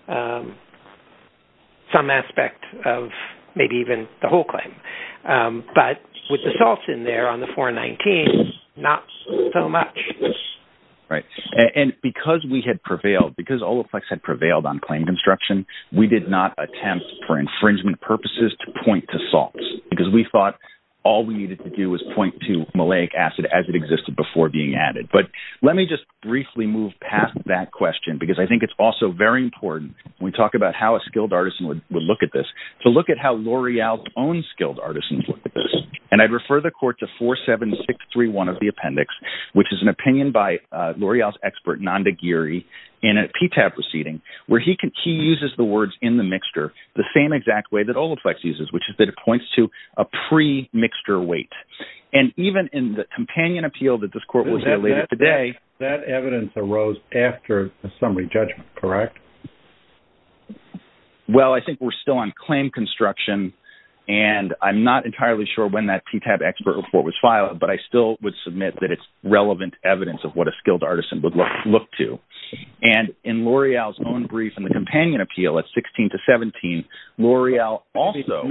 some aspect of maybe even the whole claim. But with the salts in there on the 419, not so much. Right. And because we had prevailed, because Olaflex had prevailed on claim construction, we did not attempt for infringement purposes to point to salts because we thought all we needed to do was point to maleic acid as it existed before being added. But let me just briefly move past that question because I think it's also very important, when we talk about how a skilled artisan would look at this, to look at how L'Oreal's own skilled artisans look at this. And I'd refer the court to 47631 of the appendix, which is an opinion by L'Oreal's expert, Nanda Giri, in a PTAB proceeding where he uses the words in the mixture the same exact way that Olaflex uses, which is that it points to a pre-mixture weight. And even in the companion appeal that this court was dealing with today... That evidence arose after the summary judgment, correct? Well, I think we're still on claim construction, and I'm not entirely sure when that PTAB expert report was filed, but I still would submit that it's relevant evidence of what a skilled artisan would look to. And in L'Oreal's own brief in the companion appeal at 16 to 17, L'Oreal also...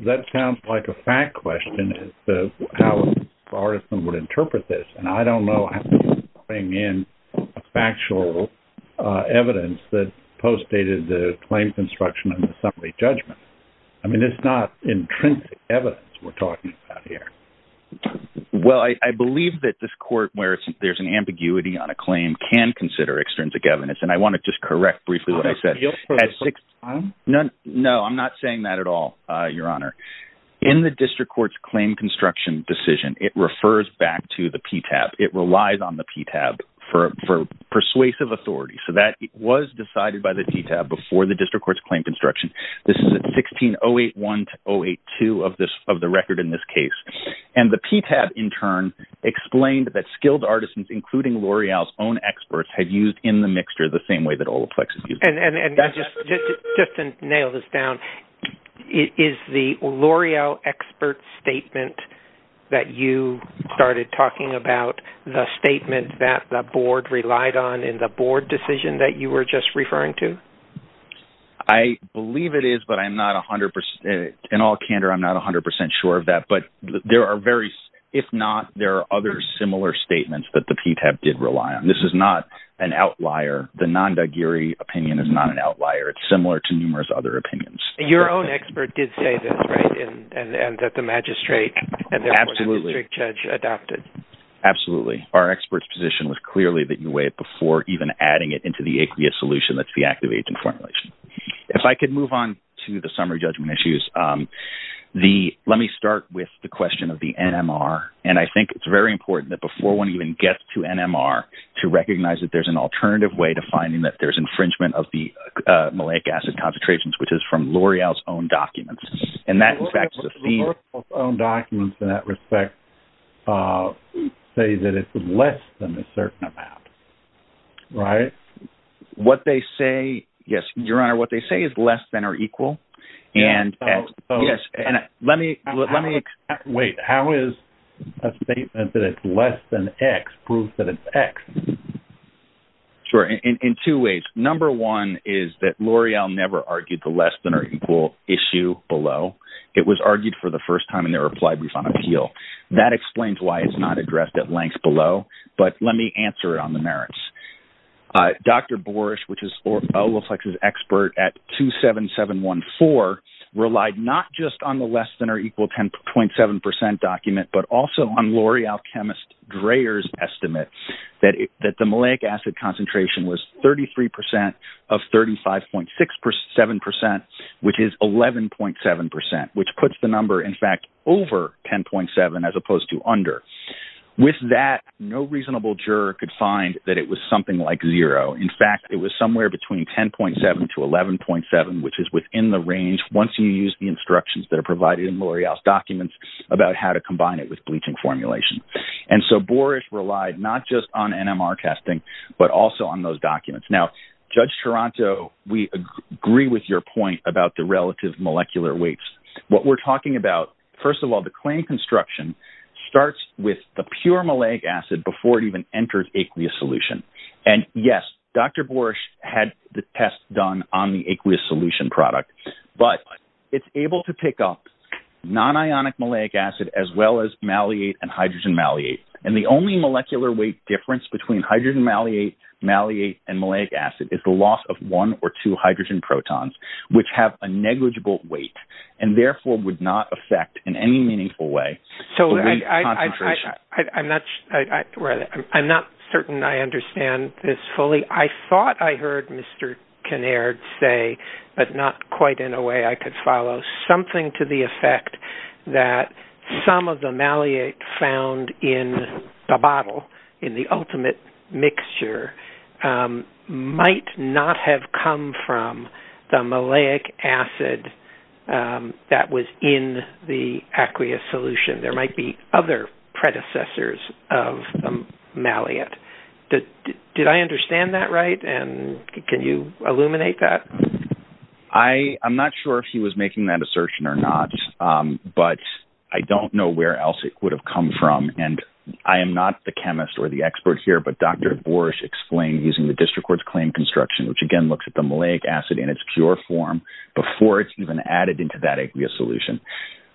That sounds like a fact question as to how an artisan would interpret this, and I don't know how to bring in factual evidence that postdated the claim construction and the summary judgment. I mean, it's not intrinsic evidence we're talking about here. Well, I believe that this court, where there's an ambiguity on a claim, can consider extrinsic evidence, and I want to just correct briefly what I said. No, I'm not saying that at all, Your Honor. In the district court's claim construction decision, it refers back to the PTAB. It relies on the PTAB for persuasive authority, so that it was decided by the PTAB before the district court's claim construction. This is at 16-081-082 of the record in this case. And the PTAB, in turn, explained that skilled artisans, including L'Oreal's own experts, had used in the mixture the same way that Olaplex has used it. And just to nail this down, is the L'Oreal expert statement that you started talking about the statement that the board relied on in the board decision that you were just referring to? I believe it is, but I'm not 100%—in all candor, I'm not 100% sure of that. But there are various—if not, there are other similar statements that the PTAB did rely on. This is not an outlier. The Nandagiri opinion is not an outlier. It's similar to numerous other opinions. Your own expert did say this, right, and that the magistrate— Absolutely. —and the district judge adopted. Absolutely. Our expert's position was clearly that you weighed it before even adding it into the aqueous solution that's the active agent formulation. If I could move on to the summary judgment issues, let me start with the question of the NMR. And I think it's very important that before one even gets to NMR, to recognize that there's an alternative way to finding that there's infringement of the malic acid concentrations, which is from L'Oreal's own documents. L'Oreal's own documents in that respect say that it's less than a certain amount, right? What they say—yes, Your Honor, what they say is less than or equal. And let me— Wait. How is a statement that it's less than X prove that it's X? Sure. In two ways. Number one is that L'Oreal never argued the less than or equal issue below. It was argued for the first time in their reply brief on appeal. That explains why it's not addressed at length below. But let me answer it on the merits. Dr. Borish, which is L'Oreal's expert at 27714, relied not just on the less than or equal 10.7% document, but also on L'Oreal chemist Dreher's estimate that the malic acid concentration was 33% of 35.67%, which is 11.7%, which puts the number, in fact, over 10.7% as opposed to under. With that, no reasonable juror could find that it was something like zero. In fact, it was somewhere between 10.7% to 11.7%, which is within the range, once you use the instructions that are provided in L'Oreal's documents about how to combine it with bleaching formulation. And so Borish relied not just on NMR testing, but also on those documents. Now, Judge Toronto, we agree with your point about the relative molecular weights. What we're talking about, first of all, the claim construction starts with the pure malic acid before it even enters aqueous solution. And, yes, Dr. Borish had the test done on the aqueous solution product. But it's able to pick up non-ionic malic acid as well as maliate and hydrogen maliate. And the only molecular weight difference between hydrogen maliate and malic acid is the loss of one or two hydrogen protons, which have a negligible weight and, therefore, would not affect in any meaningful way the weight concentration. I'm not certain I understand this fully. I thought I heard Mr. Kinnaird say, but not quite in a way I could follow, something to the effect that some of the maliate found in the bottle, in the ultimate mixture, might not have come from the maliac acid that was in the aqueous solution. There might be other predecessors of maliate. Did I understand that right, and can you illuminate that? I'm not sure if he was making that assertion or not, but I don't know where else it would have come from. And I am not the chemist or the expert here, but Dr. Borish explained using the district court's claim construction, which, again, looks at the maliac acid in its pure form before it's even added into that aqueous solution,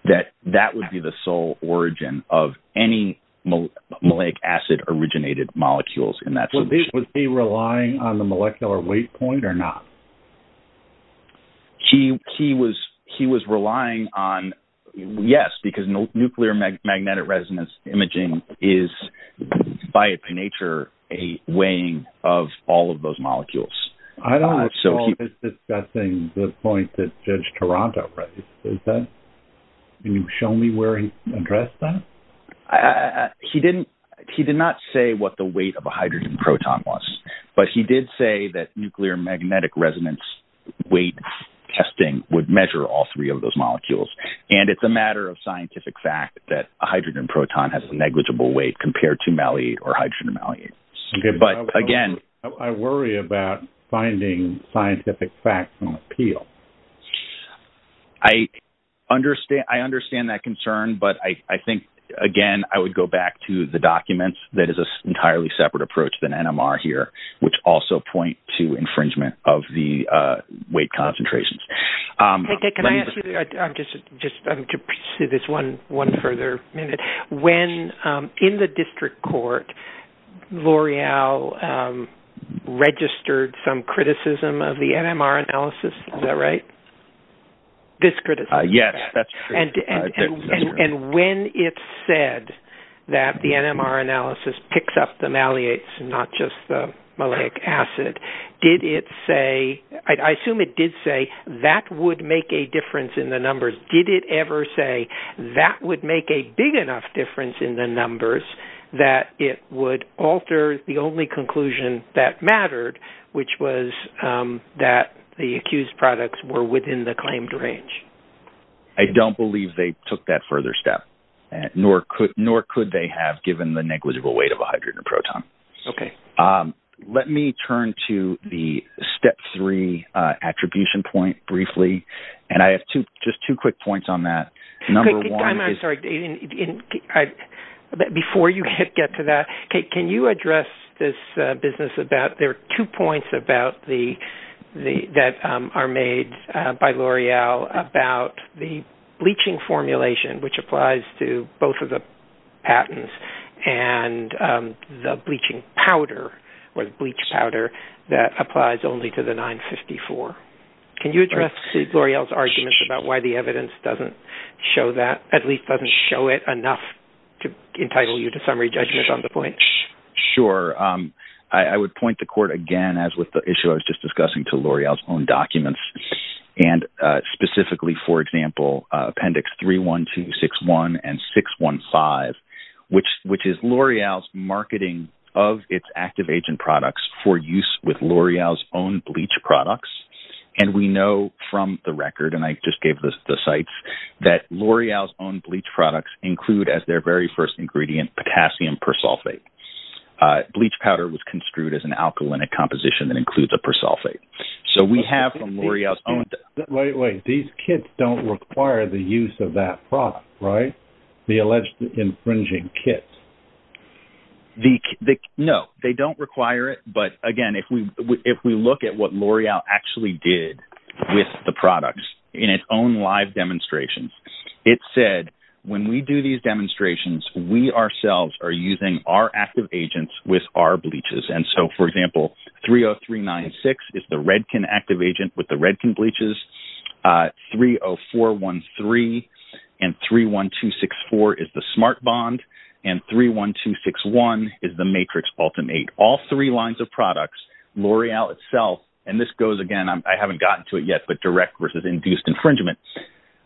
that that would be the sole origin of any maliac acid-originated molecules in that solution. Was he relying on the molecular weight point or not? He was relying on, yes, because nuclear magnetic resonance imaging is, by its nature, a weighing of all of those molecules. I don't recall him discussing the point that Judge Toronto raised. Can you show me where he addressed that? He did not say what the weight of a hydrogen proton was, but he did say that nuclear magnetic resonance weight testing would measure all three of those molecules. And it's a matter of scientific fact that a hydrogen proton has a negligible weight compared to maliate or hydrogen maliate. I worry about finding scientific facts on appeal. I understand that concern, but I think, again, I would go back to the documents. That is an entirely separate approach than NMR here, which also point to infringement of the weight concentrations. Can I ask you just to pursue this one further minute? When, in the district court, L'Oreal registered some criticism of the NMR analysis, is that right? Yes, that's correct. And when it said that the NMR analysis picks up the maliates and not just the maliac acid, I assume it did say that would make a difference in the numbers. Did it ever say that would make a big enough difference in the numbers that it would alter the only conclusion that mattered, which was that the accused products were within the claimed range? I don't believe they took that further step, nor could they have given the negligible weight of a hydrogen proton. Okay. Let me turn to the step three attribution point briefly, and I have just two quick points on that. Number one is... I'm sorry. Before you get to that, can you address this business about there are two points that are made by L'Oreal about the bleaching formulation, which applies to both of the patents and the bleaching powder or bleach powder that applies only to the 954? Can you address L'Oreal's argument about why the evidence doesn't show that, at least doesn't show it enough to entitle you to summary judgment on the point? Sure. I would point the court again, as with the issue I was just discussing, to L'Oreal's own documents, and specifically, for example, Appendix 31261 and 615, which is L'Oreal's marketing of its active agent products for use with L'Oreal's own bleach products. We know from the record, and I just gave the sites, that L'Oreal's own bleach products include, as their very first ingredient, potassium persulfate. Bleach powder was construed as an alkaline composition that includes a persulfate. So we have from L'Oreal's own… Wait, wait. These kits don't require the use of that product, right? The alleged infringing kits. No. They don't require it, but again, if we look at what L'Oreal actually did with the products in its own live demonstrations, it said, when we do these demonstrations, we ourselves are using our active agents with our bleaches. And so, for example, 30396 is the Redken active agent with the Redken bleaches, 30413 and 31264 is the Smart Bond, and 31261 is the Matrix Ultimate. All three lines of products, L'Oreal itself, and this goes, again, I haven't gotten to it yet, but direct versus induced infringement.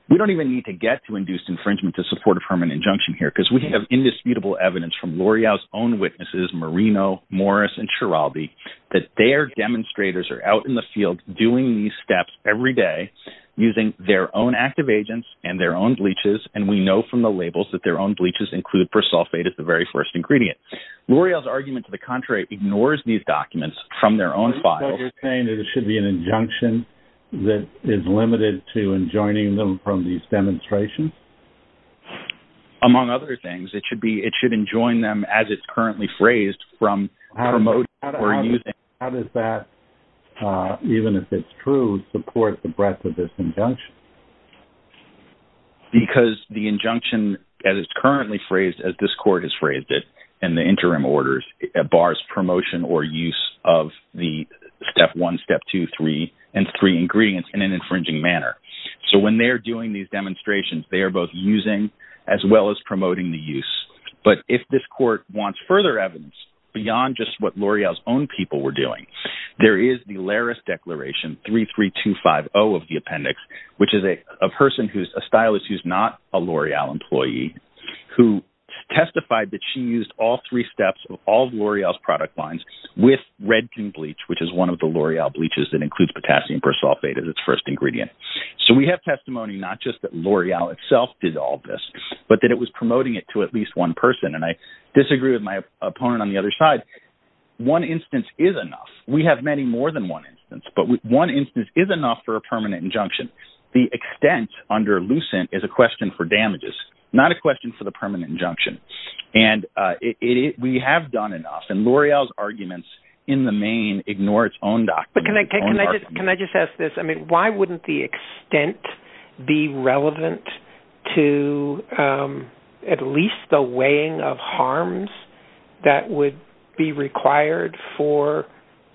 We don't even need to get to induced infringement to support a permanent injunction here, because we have indisputable evidence from L'Oreal's own witnesses, Marino, Morris, and Chirabi, that their demonstrators are out in the field doing these steps every day using their own active agents and their own bleaches, and we know from the labels that their own bleaches include persulfate as the very first ingredient. L'Oreal's argument to the contrary ignores these documents from their own files. Are you saying that it should be an injunction that is limited to enjoining them from these demonstrations? Among other things, it should enjoin them as it's currently phrased from promoting or using. How does that, even if it's true, support the breadth of this injunction? Because the injunction as it's currently phrased, as this court has phrased it in the interim orders, bars promotion or use of the step one, step two, three, and three ingredients in an infringing manner. So when they're doing these demonstrations, they are both using as well as promoting the use. But if this court wants further evidence beyond just what L'Oreal's own people were doing, there is the Laris Declaration 33250 of the appendix, which is a person who's a stylist who's not a L'Oreal employee, who testified that she used all three steps of all of L'Oreal's product lines with red king bleach, which is one of the L'Oreal bleaches that includes potassium persulfate as its first ingredient. So we have testimony not just that L'Oreal itself did all this, but that it was promoting it to at least one person. And I disagree with my opponent on the other side. One instance is enough. We have many more than one instance, but one instance is enough for a permanent injunction. The extent under Lucent is a question for damages, not a question for the permanent injunction. And we have done enough. And L'Oreal's arguments in the main ignore its own documents. Can I just ask this? I mean, why wouldn't the extent be relevant to at least the weighing of harms that would be required for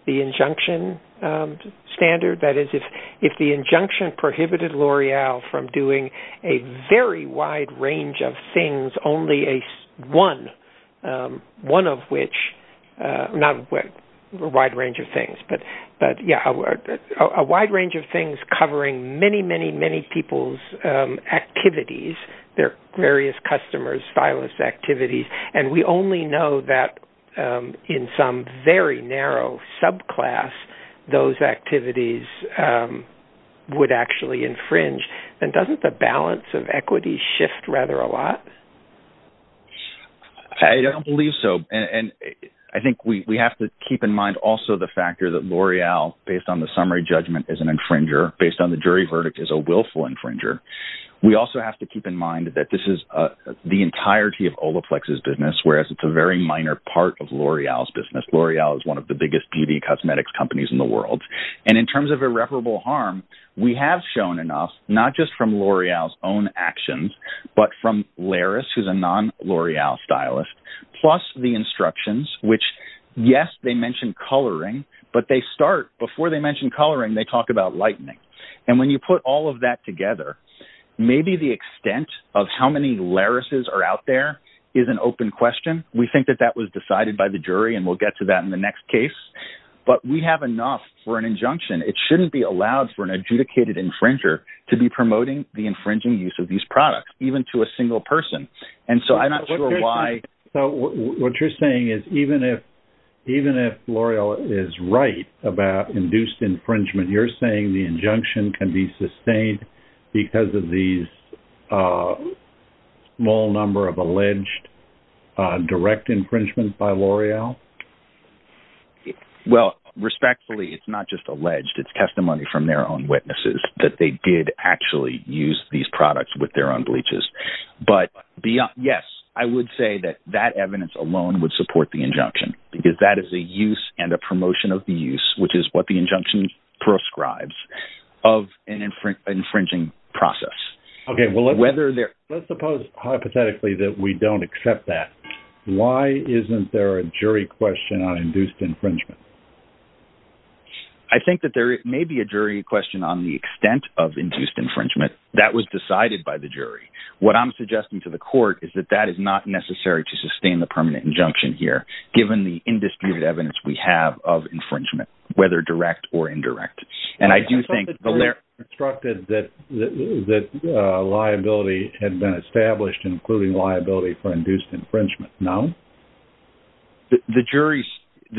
the injunction standard? That is, if the injunction prohibited L'Oreal from doing a very wide range of things, one of which, not a wide range of things, but, yeah, a wide range of things covering many, many, many people's activities, their various customers' file list activities, and we only know that in some very narrow subclass, those activities would actually infringe, then doesn't the balance of equity shift rather a lot? I don't believe so. And I think we have to keep in mind also the factor that L'Oreal, based on the summary judgment, is an infringer. Based on the jury verdict, is a willful infringer. We also have to keep in mind that this is the entirety of Olaplex's business, whereas it's a very minor part of L'Oreal's business. L'Oreal is one of the biggest beauty and cosmetics companies in the world. And in terms of irreparable harm, we have shown enough, not just from L'Oreal's own actions, but from Laris, who's a non-L'Oreal stylist, plus the instructions, which, yes, they mention coloring, but they start, before they mention coloring, they talk about lightening. And when you put all of that together, maybe the extent of how many Larises are out there is an open question. We think that that was decided by the jury, and we'll get to that in the next case. But we have enough for an injunction. It shouldn't be allowed for an adjudicated infringer to be promoting the infringing use of these products, even to a single person. And so I'm not sure why. What you're saying is even if L'Oreal is right about induced infringement, you're saying the injunction can be sustained because of these small number of alleged direct infringements by L'Oreal? Well, respectfully, it's not just alleged. It's testimony from their own witnesses that they did actually use these products with their own bleaches. But, yes, I would say that that evidence alone would support the injunction, because that is a use and a promotion of the use, which is what the injunction prescribes, of an infringing process. Okay, well, let's suppose hypothetically that we don't accept that. Why isn't there a jury question on induced infringement? I think that there may be a jury question on the extent of induced infringement. That was decided by the jury. What I'm suggesting to the court is that that is not necessary to sustain the permanent injunction here, given the indisputed evidence we have of infringement, whether direct or indirect. And I do think L'Oreal instructed that liability had been established, including liability for induced infringement. No. The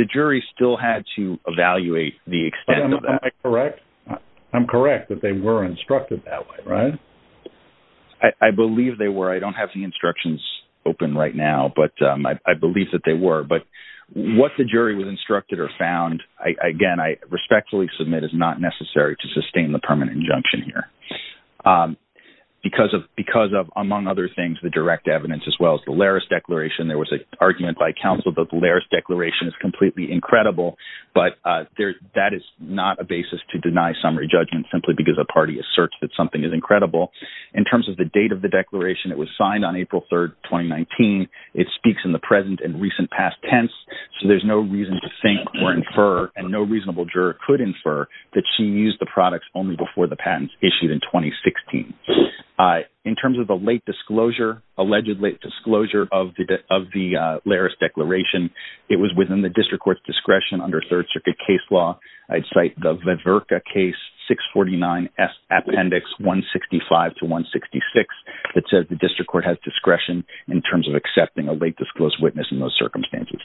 jury still had to evaluate the extent of that. Am I correct? I'm correct that they were instructed that way, right? I believe they were. I don't have the instructions open right now, but I believe that they were. But what the jury was instructed or found, again, I respectfully submit, is not necessary to sustain the permanent injunction here, because of, among other things, the direct evidence, as well as the Laris Declaration. There was an argument by counsel that the Laris Declaration is completely incredible, but that is not a basis to deny summary judgment simply because a party asserts that something is incredible. In terms of the date of the declaration, it was signed on April 3rd, 2019. It speaks in the present and recent past tense, so there's no reason to think or infer, and no reasonable juror could infer, that she used the products only before the patents issued in 2016. In terms of the late disclosure, alleged late disclosure of the Laris Declaration, it was within the district court's discretion under Third Circuit case law. I'd cite the Viverka case, 649S Appendix 165 to 166. It says the district court has discretion in terms of accepting a late disclosure witness in those circumstances.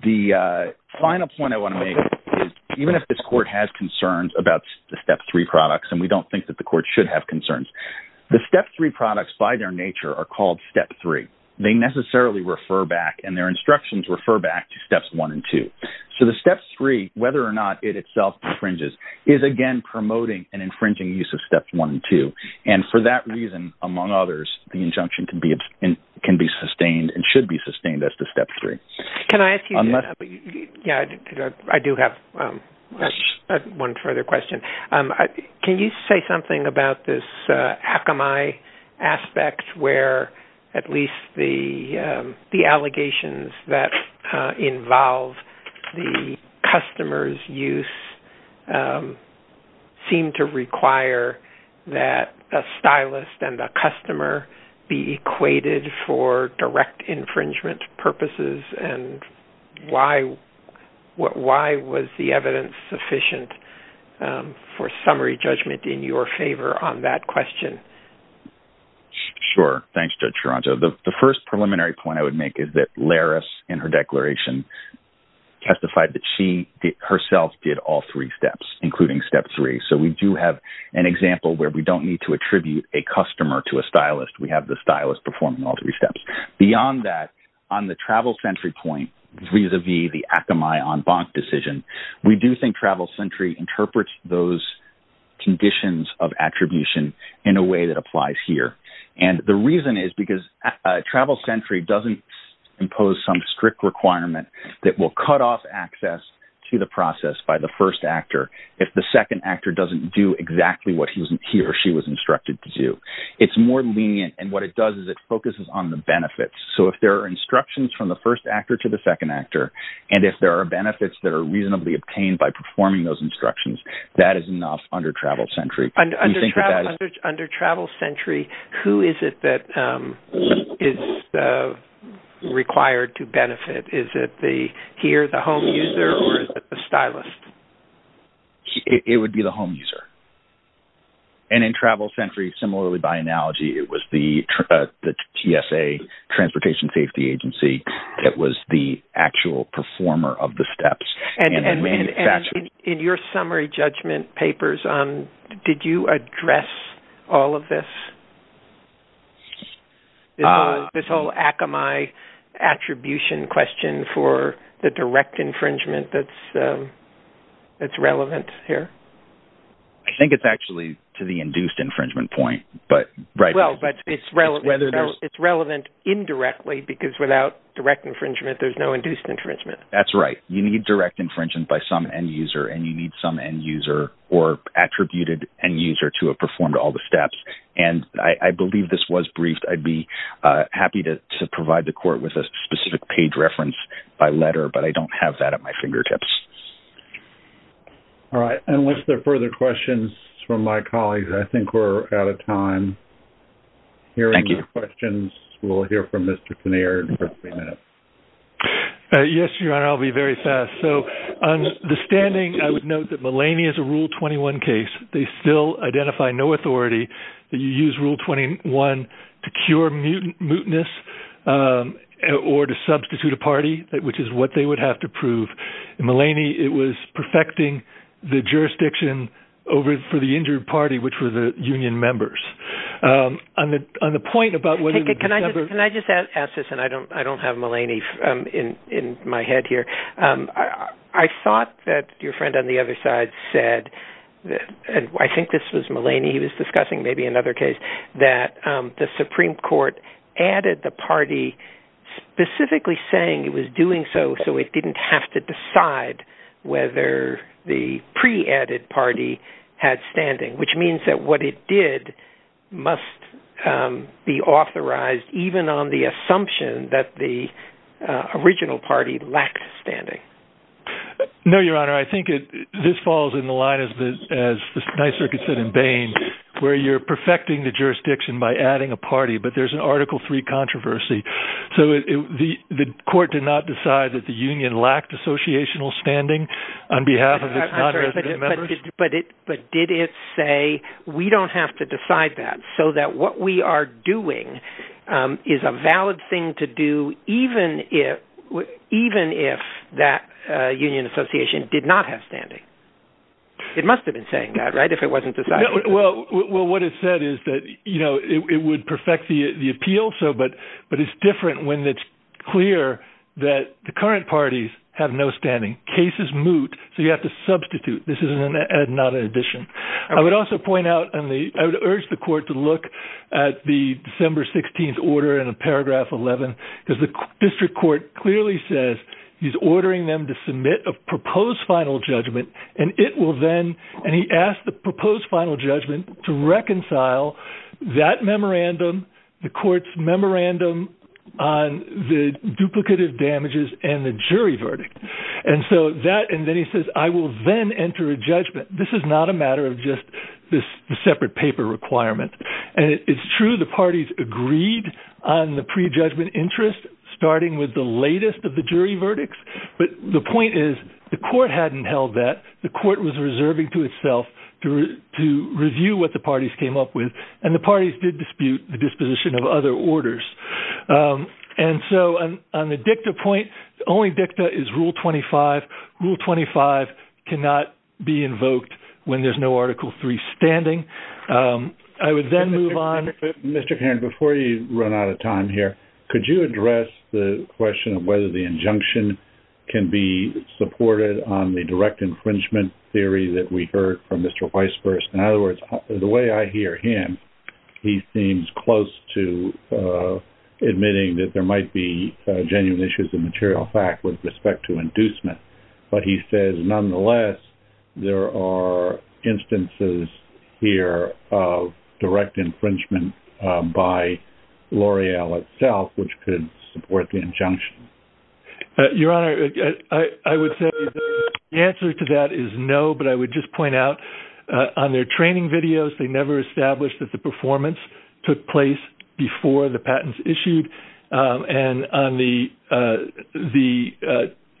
The final point I want to make is, even if this court has concerns about the Step 3 products, and we don't think that the court should have concerns, the Step 3 products, by their nature, are called Step 3. They necessarily refer back, and their instructions refer back to Steps 1 and 2. So the Step 3, whether or not it itself infringes, is again promoting an infringing use of Steps 1 and 2. And for that reason, among others, the injunction can be sustained and should be sustained as to Step 3. Can I ask you something? I do have one further question. Can you say something about this Akamai aspect, where at least the allegations that involve the customer's use seem to require that a stylist and a customer be equated for direct infringement purposes? And why was the evidence sufficient for summary judgment in your favor on that question? Sure. Thanks, Judge Ferranto. The first preliminary point I would make is that Laris, in her declaration, testified that she herself did all three steps, including Step 3. So we do have an example where we don't need to attribute a customer to a stylist. We have the stylist performing all three steps. Beyond that, on the Travel Sentry point, vis-à-vis the Akamai en banc decision, we do think Travel Sentry interprets those conditions of attribution in a way that applies here. And the reason is because Travel Sentry doesn't impose some strict requirement that will cut off access to the process by the first actor if the second actor doesn't do exactly what he or she was instructed to do. It's more lenient, and what it does is it focuses on the benefits. So if there are instructions from the first actor to the second actor, and if there are benefits that are reasonably obtained by performing those instructions, that is enough under Travel Sentry. Under Travel Sentry, who is it that is required to benefit? Is it here, the home user, or is it the stylist? It would be the home user. And in Travel Sentry, similarly by analogy, it was the TSA, Transportation Safety Agency, that was the actual performer of the steps. And in your summary judgment papers, did you address all of this? This whole Akamai attribution question for the direct infringement that's relevant here? I think it's actually to the induced infringement point. Well, but it's relevant indirectly because without direct infringement, there's no induced infringement. That's right. You need direct infringement by some end user, and you need some end user or attributed end user to have performed all the steps. And I believe this was briefed. I'd be happy to provide the court with a specific page reference by letter, but I don't have that at my fingertips. All right. Unless there are further questions from my colleagues, I think we're out of time. Thank you. Hearing no questions, we'll hear from Mr. Pinard in just a minute. Yes, Your Honor. I'll be very fast. So on the standing, I would note that Mulaney is a Rule 21 case. They still identify no authority that you use Rule 21 to cure muteness or to substitute a party, which is what they would have to prove. In Mulaney, it was perfecting the jurisdiction over for the injured party, which were the union members. On the point about whether the members... Thank you, Mulaney, in my head here. I thought that your friend on the other side said, and I think this was Mulaney he was discussing, maybe another case, that the Supreme Court added the party specifically saying it was doing so so it didn't have to decide whether the pre-added party had standing, which means that what it did must be authorized even on the assumption that the original party lacked standing. No, Your Honor. I think this falls in the line, as the Ninth Circuit said in Bain, where you're perfecting the jurisdiction by adding a party, but there's an Article III controversy. So the court did not decide that the union lacked associational standing on behalf of its non-resident members? But did it say we don't have to decide that so that what we are doing is a valid thing to do even if that union association did not have standing? It must have been saying that, right, if it wasn't decided? Well, what it said is that it would perfect the appeal, but it's different when it's clear that the current parties have no standing. Case is moot, so you have to substitute. This is not an addition. I would also point out, and I would urge the court to look at the December 16th order in paragraph 11, because the district court clearly says he's ordering them to submit a proposed final judgment, and he asked the proposed final judgment to reconcile that memorandum, the court's memorandum on the duplicative damages and the jury verdict. And so that, and then he says, I will then enter a judgment. This is not a matter of just this separate paper requirement. And it's true the parties agreed on the prejudgment interest starting with the latest of the jury verdicts, but the point is the court hadn't held that. The court was reserving to itself to review what the parties came up with, and the parties did dispute the disposition of other orders. And so on the dicta point, the only dicta is Rule 25. Rule 25 cannot be invoked when there's no Article III standing. I would then move on. Mr. Cairns, before you run out of time here, could you address the question of whether the injunction can be supported on the direct infringement theory that we heard from Mr. Weisburst? In other words, the way I hear him, he seems close to admitting that there might be genuine issues of material fact with respect to inducement. But he says, nonetheless, there are instances here of direct infringement by L'Oreal itself, which could support the injunction. Your Honor, I would say the answer to that is no, but I would just point out on their training videos, they never established that the performance took place before the patents issued. And on the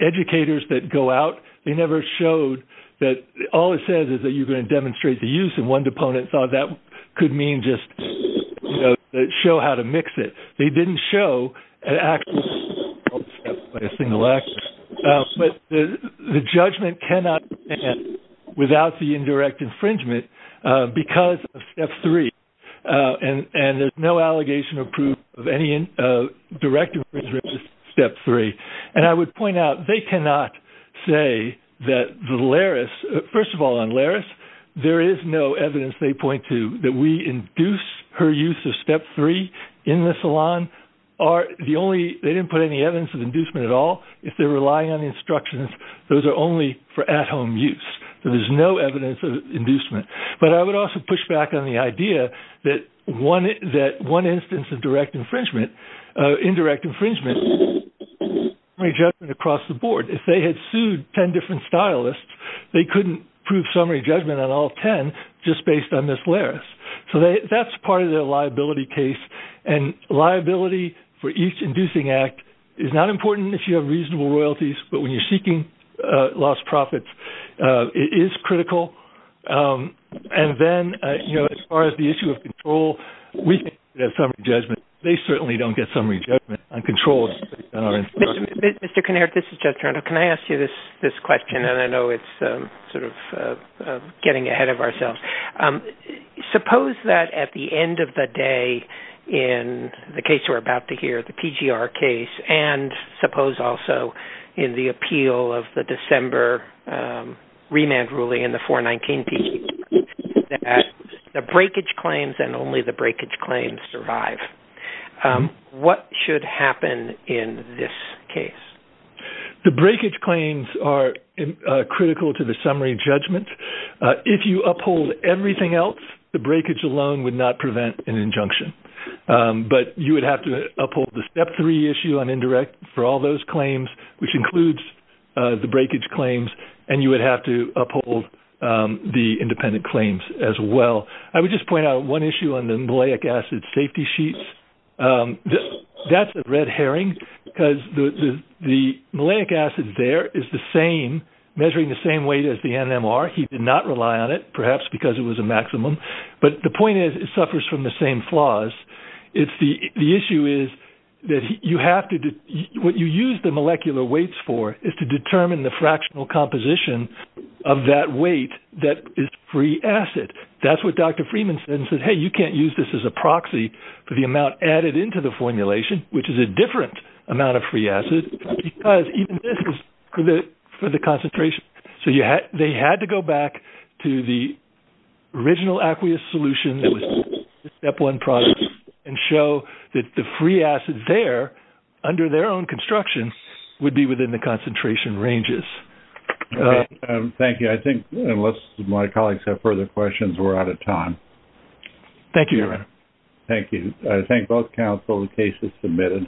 educators that go out, they never showed that all it says is that you're going to demonstrate the use, and one opponent thought that could mean just show how to mix it. They didn't show an actual example of a single action. But the judgment cannot stand without the indirect infringement because of Step 3, and there's no allegation or proof of any direct infringement of Step 3. And I would point out, they cannot say that the Laris – first of all, on Laris, there is no evidence, they point to, that we induce her use of Step 3 in the salon. They didn't put any evidence of inducement at all. If they're relying on the instructions, those are only for at-home use. There is no evidence of inducement. But I would also push back on the idea that one instance of direct infringement, indirect infringement across the board. If they had sued 10 different stylists, they couldn't prove summary judgment on all 10 just based on this Laris. So that's part of their liability case, and liability for each inducing act is not important if you have reasonable royalties, but when you're seeking lost profits, it is critical. And then, you know, as far as the issue of control, we think that summary judgment, they certainly don't get summary judgment on controls. Mr. Kinnaird, this is Jeff Turner. Can I ask you this question? And I know it's sort of getting ahead of ourselves. Suppose that at the end of the day in the case we're about to hear, the TGR case, and suppose also in the appeal of the December remand ruling in the 419 TGR, that the breakage claims and only the breakage claims survive. What should happen in this case? The breakage claims are critical to the summary judgment. If you uphold everything else, the breakage alone would not prevent an injunction. But you would have to uphold the Step 3 issue on indirect for all those claims, which includes the breakage claims, and you would have to uphold the independent claims as well. I would just point out one issue on the malic acid safety sheets. That's a red herring because the malic acid there is the same, measuring the same weight as the NMR. He did not rely on it, perhaps because it was a maximum. But the point is it suffers from the same flaws. The issue is that what you use the molecular weights for is to determine the fractional composition of that weight that is free acid. That's what Dr. Freeman said. He said, hey, you can't use this as a proxy for the amount added into the formulation, which is a different amount of free acid, because even this is for the concentration. So they had to go back to the original aqueous solution, the Step 1 product, and show that the free acid there under their own construction would be within the concentration ranges. Thank you. I think unless my colleagues have further questions, we're out of time. Thank you, Your Honor. Thank you. I thank both counsel. The case is submitted.